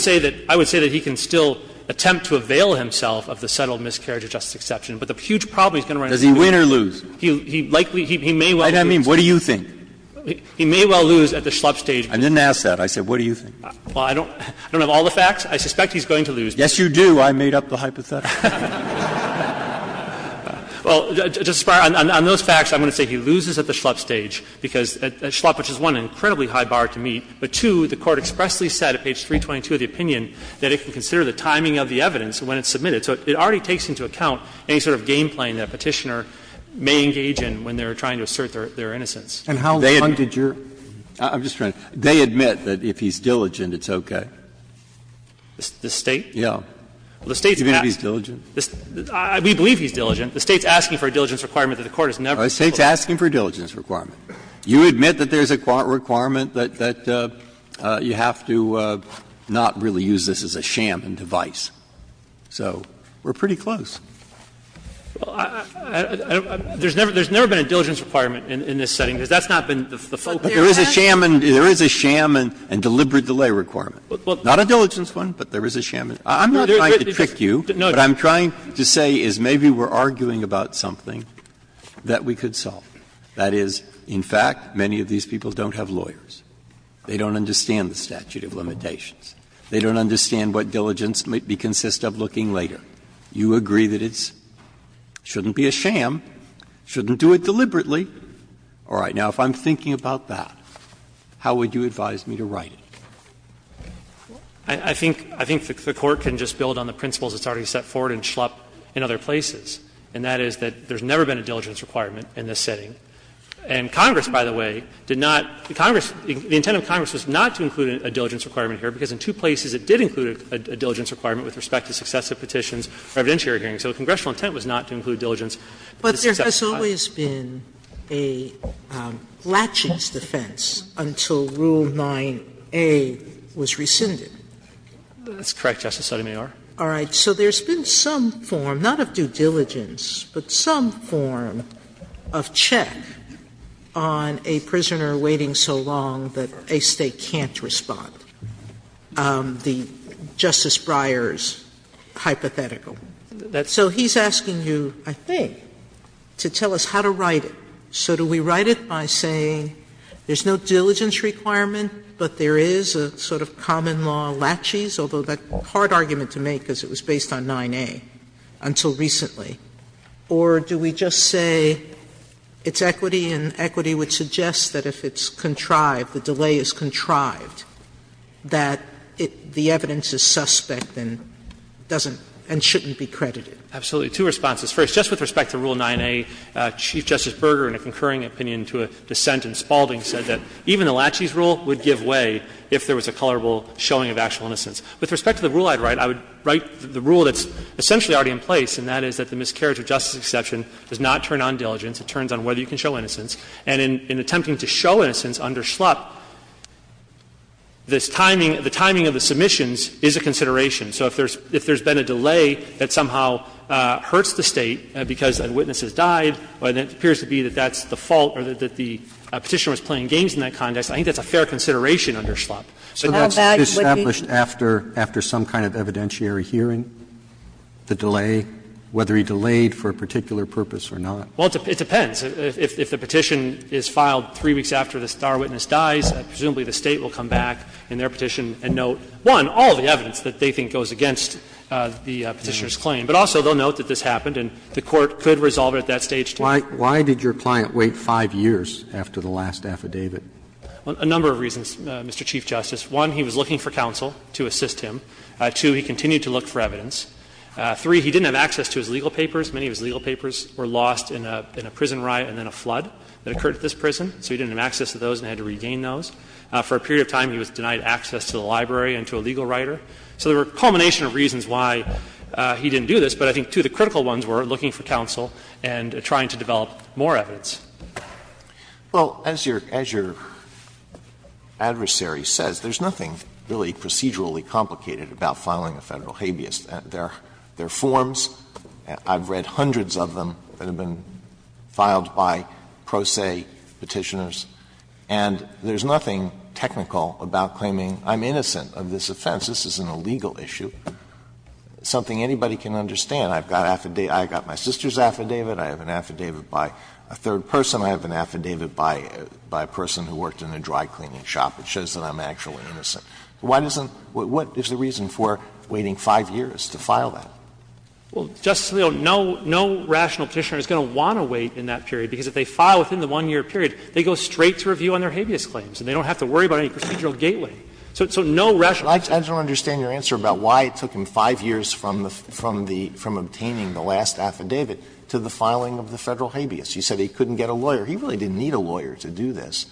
say that he can still attempt to avail himself of the settled miscarriage of justice exception, but the huge problem he's going to have is that he's going to lose. Breyer Does he win or lose? McCleskey He likely ---- he may well lose. Breyer I didn't mean, what do you think? McCleskey He may well lose at the Schlupp stage. Breyer I didn't ask that. I said, what do you think? McCleskey Well, I don't have all the facts. I suspect he's going to lose. Breyer Yes, you do. I made up the hypothetical. McCleskey Well, Justice Breyer, on those facts, I'm going to say he loses at the Schlupp stage, because Schlupp, which is, one, an incredibly high bar to meet, but, two, the Court expressly said at page 322 of the opinion that it can consider the timing of the evidence when it's submitted. So it already takes into account any sort of game-playing that a Petitioner may engage in when they're trying to assert their innocence. Breyer And how long did your ---- Breyer I'm just trying to ---- they admit that if he's diligent, it's okay. McCleskey The State? Breyer Yes. McCleskey Well, the State's asking. Breyer Do you mean if he's diligent? McCleskey We believe he's diligent. The State's asking for a diligence requirement that the Court has never ---- Breyer The State's asking for a diligence requirement. You admit that there's a requirement that you have to not really use this as a sham and device, so we're pretty close. McCleskey Well, I don't ---- there's never been a diligence requirement in this setting, because that's not been the focus. Breyer But there is a sham and deliberate delay requirement. Not a diligence one, but there is a sham. I'm not trying to trick you. What I'm trying to say is maybe we're arguing about something that we could solve. That is, in fact, many of these people don't have lawyers. They don't understand the statute of limitations. They don't understand what diligence might be consistent of looking later. You agree that it shouldn't be a sham, shouldn't do it deliberately. All right. Now, if I'm thinking about that, how would you advise me to write it? McCleskey I think the Court can just build on the principles it's already set forward in Schlupp and other places, and that is that there's never been a diligence requirement in this setting. And Congress, by the way, did not ---- Congress, the intent of Congress was not to include a diligence requirement here, because in two places it did include a diligence requirement with respect to successive petitions or evidentiary hearings. So the congressional intent was not to include diligence. Sotomayor But there has always been a latching's defense until Rule 9a was rescinded. McCleskey That's correct, Justice Sotomayor. Sotomayor All right. So there's been some form, not of due diligence, but some form of check on a prisoner waiting so long that a State can't respond, the Justice Breyer's hypothetical. So he's asking you, I think, to tell us how to write it. So do we write it by saying there's no diligence requirement, but there is a sort of common law latches, although that's a hard argument to make because it was based on 9a until recently, or do we just say it's equity and equity would suggest that if it's contrived, the delay is contrived, that the evidence is suspect and doesn't and shouldn't be credited? McCleskey Absolutely. Two responses. First, just with respect to Rule 9a, Chief Justice Berger, in a concurring opinion to a dissent in Spaulding, said that even a latches rule would give way if there was a colorable showing of actual innocence. With respect to the rule I'd write, I would write the rule that's essentially already in place, and that is that the miscarriage of justice exception does not turn on diligence. It turns on whether you can show innocence. And in attempting to show innocence under Schlupp, this timing, the timing of the submissions is a consideration. So if there's been a delay that somehow hurts the State because a witness has died and it appears to be that that's the fault or that the Petitioner was playing games in that context, I think that's a fair consideration under Schlupp. Roberts So that's established after some kind of evidentiary hearing, the delay, whether he delayed for a particular purpose or not? Berger Well, it depends. If the Petition is filed 3 weeks after the star witness dies, presumably the State will come back in their Petition and note, one, all the evidence that they think goes against the Petitioner's claim, but also they'll note that this happened and the Court could resolve it at that stage, too. Roberts Why did your client wait 5 years after the last affidavit? Berger A number of reasons, Mr. Chief Justice. One, he was looking for counsel to assist him. Two, he continued to look for evidence. Three, he didn't have access to his legal papers. Many of his legal papers were lost in a prison riot and then a flood that occurred at this prison, so he didn't have access to those and had to regain those. For a period of time, he was denied access to the library and to a legal writer. So there were a culmination of reasons why he didn't do this, but I think, too, the critical ones were looking for counsel and trying to develop more evidence. Alito Well, as your adversary says, there's nothing really procedurally complicated about filing a Federal habeas. There are forms, I've read hundreds of them, that have been filed by pro se Petitioners. And there's nothing technical about claiming I'm innocent of this offense. This isn't a legal issue. It's something anybody can understand. I've got my sister's affidavit, I have an affidavit by a third person, I have an affidavit by a person who worked in a dry cleaning shop. It shows that I'm actually innocent. Why doesn't the reason for waiting 5 years to file that? Fisherman Well, Justice Alito, no rational Petitioner is going to want to wait in that period, because if they file within the 1-year period, they go straight to review on their habeas claims and they don't have to worry about any procedural gateway. So no rational Petitioner. Alito I don't understand your answer about why it took him 5 years from the obtaining the last affidavit to the filing of the Federal habeas. You said he couldn't get a lawyer. He really didn't need a lawyer to do this.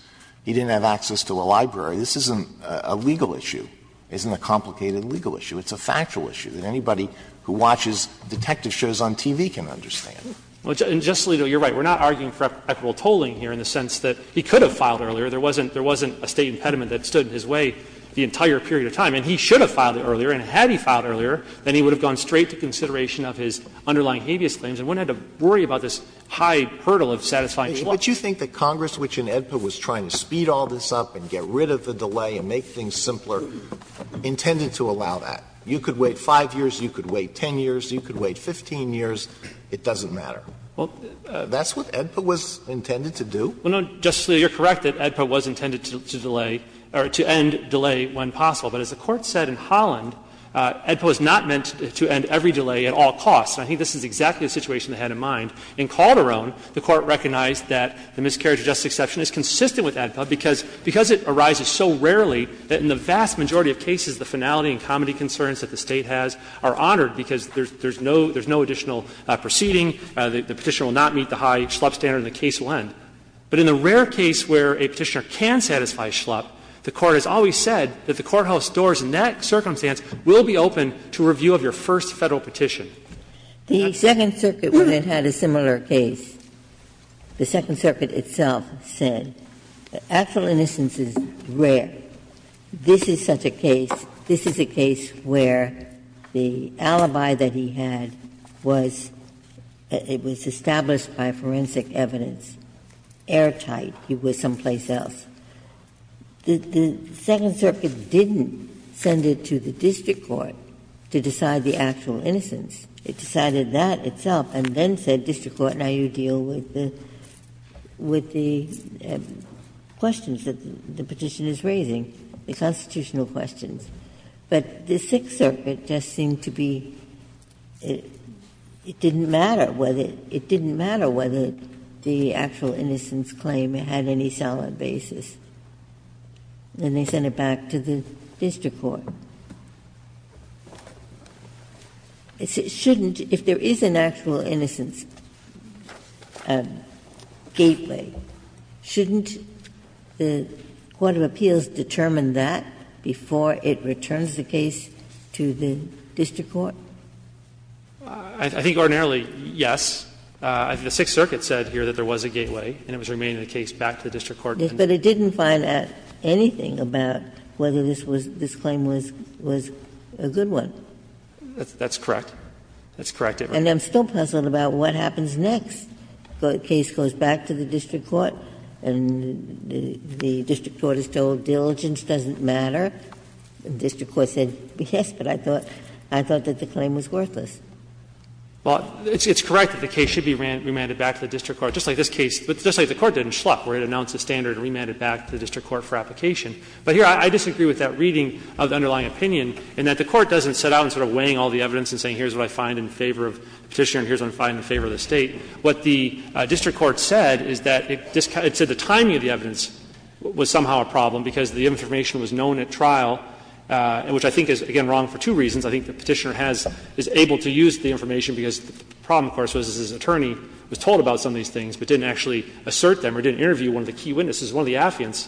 He didn't have access to a library. This isn't a legal issue. It isn't a complicated legal issue. It's a factual issue that anybody who watches detective shows on TV can understand. Fisherman Well, Justice Alito, you're right. We're not arguing for equitable tolling here in the sense that he could have filed earlier. There wasn't a State impediment that stood in his way the entire period of time. And he should have filed it earlier. And had he filed earlier, then he would have gone straight to consideration of his underlying habeas claims and wouldn't have had to worry about this high hurdle of satisfying the clause. Alito But you think that Congress, which in AEDPA was trying to speed all this up and get rid of the delay and make things simpler, intended to allow that? You could wait 5 years, you could wait 10 years, you could wait 15 years. It doesn't matter. That's what AEDPA was intended to do? Fisherman Well, no, Justice Alito, you're correct that AEDPA was intended to delay or to end delay when possible. But as the Court said in Holland, AEDPA was not meant to end every delay at all costs. And I think this is exactly the situation they had in mind. In Calderon, the Court recognized that the miscarriage of justice exception is consistent with AEDPA because it arises so rarely that in the vast majority of cases the finality and comity concerns that the State has are honored because there's no additional proceeding, the Petitioner will not meet the high Schlupp standard and the case will end. But in the rare case where a Petitioner can satisfy Schlupp, the Court has always said that the courthouse doors in that circumstance will be open to review of your first Federal petition. Ginsburg The Second Circuit, when it had a similar case, the Second Circuit itself said that actual innocence is rare. This is such a case, this is a case where the alibi that he had was established by forensic evidence, airtight, he was someplace else. The Second Circuit didn't send it to the district court to decide the actual innocence. It decided that itself and then said, district court, now you deal with the questions that the Petitioner is raising, the constitutional questions. But the Sixth Circuit just seemed to be, it didn't matter whether the actual innocence claim had any solid basis. Then they sent it back to the district court. It shouldn't, if there is an actual innocence gateway, shouldn't the court of appeals determine that before it returns the case to the district court? I think ordinarily, yes. The Sixth Circuit said here that there was a gateway and it was remained in the case back to the district court. Ginsburg. But it didn't find out anything about whether this was, this claim was a good one. That's correct. That's correct, Your Honor. And I'm still puzzled about what happens next. The case goes back to the district court and the district court is told diligence doesn't matter. The district court said, yes, but I thought that the claim was worthless. Well, it's correct that the case should be remanded back to the district court, just like this case, but just like the court did in Schlupp, where it announced the standard and remanded it back to the district court for application. But here I disagree with that reading of the underlying opinion in that the court doesn't set out and sort of weighing all the evidence and saying here's what I find in favor of the Petitioner and here's what I find in favor of the State. What the district court said is that it said the timing of the evidence was somehow a problem because the information was known at trial, which I think is, again, wrong for two reasons. One, of course, was that his attorney was told about some of these things but didn't actually assert them or didn't interview one of the key witnesses. One of the affiants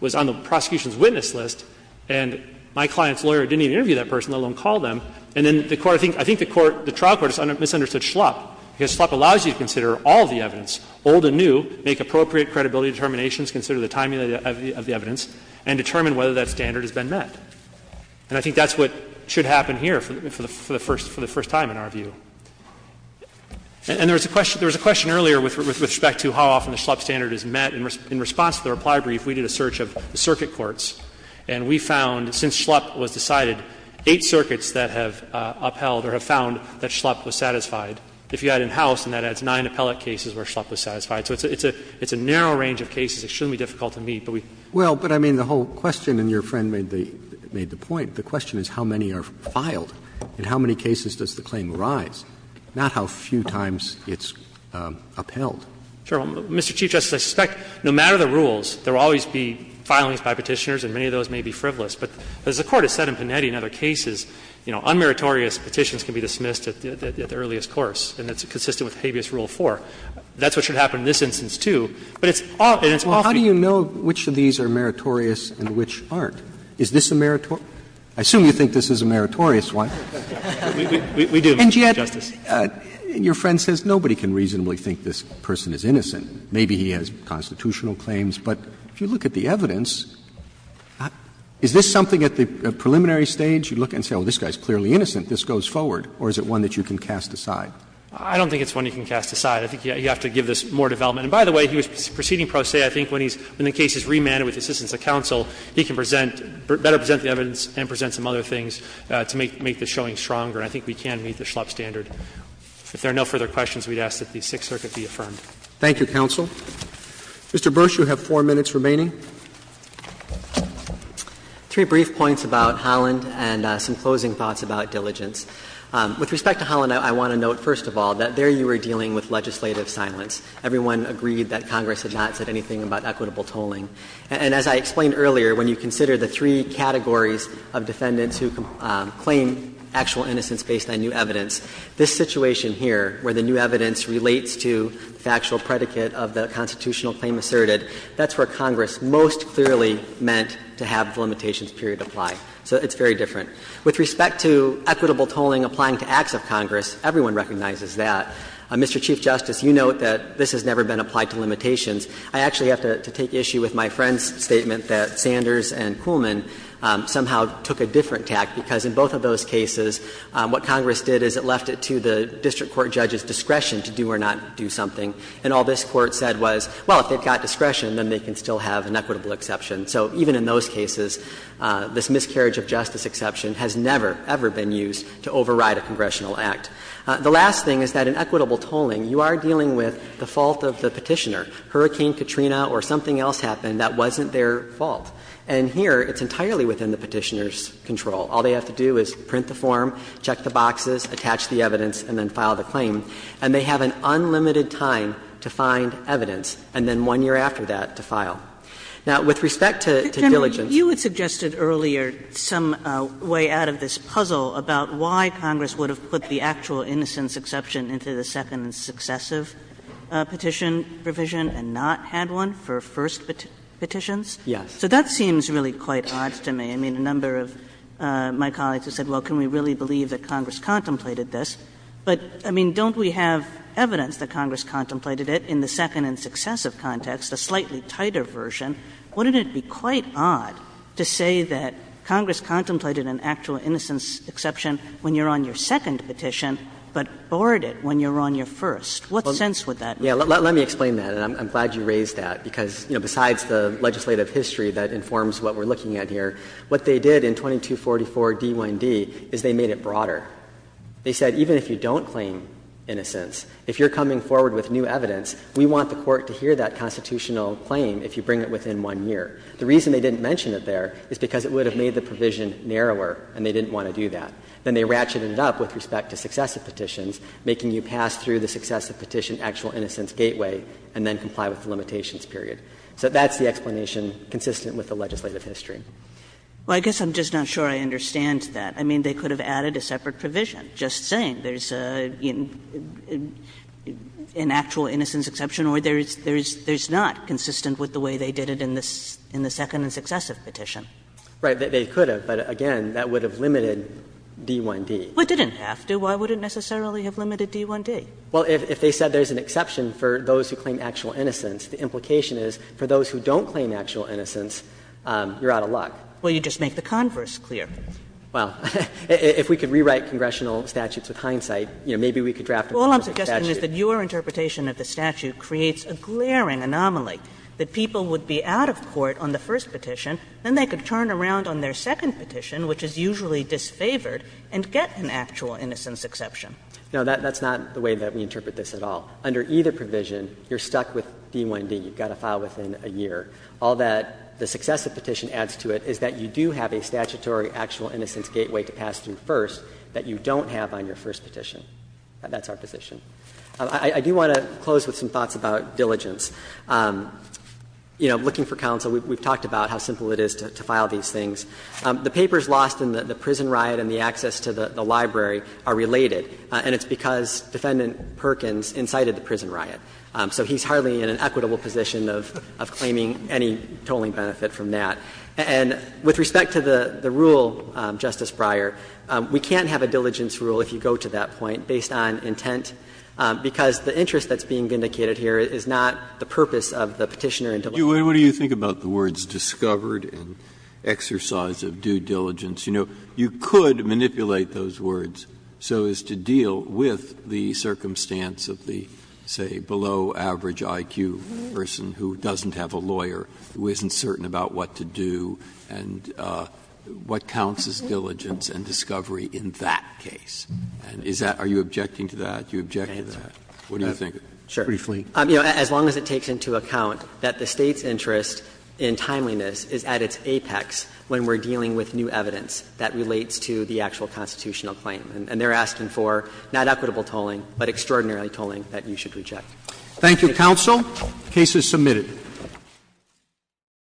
was on the prosecution's witness list, and my client's lawyer didn't even interview that person, let alone call them. And then the court — I think the court, the trial court misunderstood Schlupp, because Schlupp allows you to consider all of the evidence, old and new, make appropriate credibility determinations, consider the timing of the evidence, and determine whether that standard has been met. And I think that's what should happen here for the first time, in our view. And there was a question earlier with respect to how often the Schlupp standard is met. In response to the reply brief, we did a search of the circuit courts, and we found since Schlupp was decided, eight circuits that have upheld or have found that Schlupp was satisfied. If you add in House, then that adds nine appellate cases where Schlupp was satisfied. So it's a narrow range of cases, extremely difficult to meet, but we— Roberts Well, but I mean, the whole question, and your friend made the point, the question is how many are filed, and how many cases does the claim rise, not how few times it's upheld. Fisher Sure. Mr. Chief Justice, I suspect no matter the rules, there will always be filings by Petitioners, and many of those may be frivolous. But as the Court has said in Panetti and other cases, you know, unmeritorious petitions can be dismissed at the earliest course, and it's consistent with Habeas Rule 4. That's what should happen in this instance, too. But it's often, it's often— Roberts Well, how do you know which of these are meritorious and which aren't? Is this a meritorious? I assume you think this is a meritorious one. Fisher We do, Mr. Chief Justice. Roberts And yet your friend says nobody can reasonably think this person is innocent. Maybe he has constitutional claims, but if you look at the evidence, is this something at the preliminary stage you look at and say, oh, this guy is clearly innocent, this goes forward, or is it one that you can cast aside? Fisher I don't think it's one you can cast aside. I think you have to give this more development. And by the way, he was proceeding pro se. I think when he's, when the case is remanded with the assistance of counsel, he can present, better present the evidence and present some other things to make the showing stronger. And I think we can meet the Schlepp standard. If there are no further questions, we'd ask that the Sixth Circuit be affirmed. Roberts Thank you, counsel. Mr. Bursch, you have four minutes remaining. Bursch Three brief points about Holland and some closing thoughts about diligence. With respect to Holland, I want to note, first of all, that there you were dealing with legislative silence. Everyone agreed that Congress had not said anything about equitable tolling. And as I explained earlier, when you consider the three categories of defendants who claim actual innocence based on new evidence, this situation here, where the new evidence relates to the actual predicate of the constitutional claim asserted, that's where Congress most clearly meant to have the limitations period apply. So it's very different. With respect to equitable tolling applying to acts of Congress, everyone recognizes that. Mr. Chief Justice, you note that this has never been applied to limitations. I actually have to take issue with my friend's statement that Sanders and Kuhlman somehow took a different tack, because in both of those cases, what Congress did is it left it to the district court judge's discretion to do or not do something. And all this Court said was, well, if they've got discretion, then they can still have an equitable exception. So even in those cases, this miscarriage of justice exception has never, ever been used to override a congressional act. The last thing is that in equitable tolling, you are dealing with the fault of the petitioner. If Hurricane Katrina or something else happened, that wasn't their fault. And here, it's entirely within the petitioner's control. All they have to do is print the form, check the boxes, attach the evidence, and then file the claim. And they have an unlimited time to find evidence, and then one year after that to file. Now, with respect to diligence. Kagan, you had suggested earlier some way out of this puzzle about why Congress would have put the actual innocence exception into the second successive petition provision and not had one for first petitions. Yes. So that seems really quite odd to me. I mean, a number of my colleagues have said, well, can we really believe that Congress contemplated this? But, I mean, don't we have evidence that Congress contemplated it in the second and successive context, a slightly tighter version? Wouldn't it be quite odd to say that Congress contemplated an actual innocence exception when you're on your second petition, but borrowed it when you're on your first? What sense would that make? Let me explain that, and I'm glad you raised that, because, you know, besides the legislative history that informs what we're looking at here, what they did in 2244 D.1.D. is they made it broader. They said even if you don't claim innocence, if you're coming forward with new evidence, we want the Court to hear that constitutional claim if you bring it within one year. The reason they didn't mention it there is because it would have made the provision narrower and they didn't want to do that. Then they ratcheted it up with respect to successive petitions, making you pass through the successive petition actual innocence gateway, and then comply with the limitations period. So that's the explanation consistent with the legislative history. Kagan. Well, I guess I'm just not sure I understand that. I mean, they could have added a separate provision, just saying there's an actual innocence exception, or there's not consistent with the way they did it in the second and successive petition. Right. They could have, but again, that would have limited D.1.D. Well, it didn't have to. Why would it necessarily have limited D.1.D.? Well, if they said there's an exception for those who claim actual innocence, the implication is for those who don't claim actual innocence, you're out of luck. Well, you just make the converse clear. Well, if we could rewrite congressional statutes with hindsight, you know, maybe we could draft a perfect statute. All I'm suggesting is that your interpretation of the statute creates a glaring anomaly, that people would be out of court on the first petition, then they could turn around on their second petition, which is usually disfavored, and get an actual innocence exception. No, that's not the way that we interpret this at all. Under either provision, you're stuck with D.1.D. You've got to file within a year. All that the successive petition adds to it is that you do have a statutory actual innocence gateway to pass through first that you don't have on your first petition. That's our position. I do want to close with some thoughts about diligence. You know, looking for counsel, we've talked about how simple it is to file these things. The papers lost in the prison riot and the access to the library are related. And it's because Defendant Perkins incited the prison riot. So he's hardly in an equitable position of claiming any tolling benefit from that. And with respect to the rule, Justice Breyer, we can't have a diligence rule, if you go to that point, based on intent, because the interest that's being vindicated here is not the purpose of the Petitioner in D.1.D. Breyer, what do you think about the words discovered and exercise of due diligence? You know, you could manipulate those words so as to deal with the circumstance of the, say, below average IQ person who doesn't have a lawyer, who isn't certain about what to do, and what counts as diligence and discovery in that case. And is that – are you objecting to that? You object to that. What do you think? Burschel. Burschel. Burschel. Burschel. Burschel. Burschel. Burschel. Burschel. And so there's a whole range of context when we're dealing with new evidence that relates to the actual constitutional claim. And they're asking for not equitable tolling, but extraordinarily tolling that you should reject. Thank you, counsel. The case is submitted.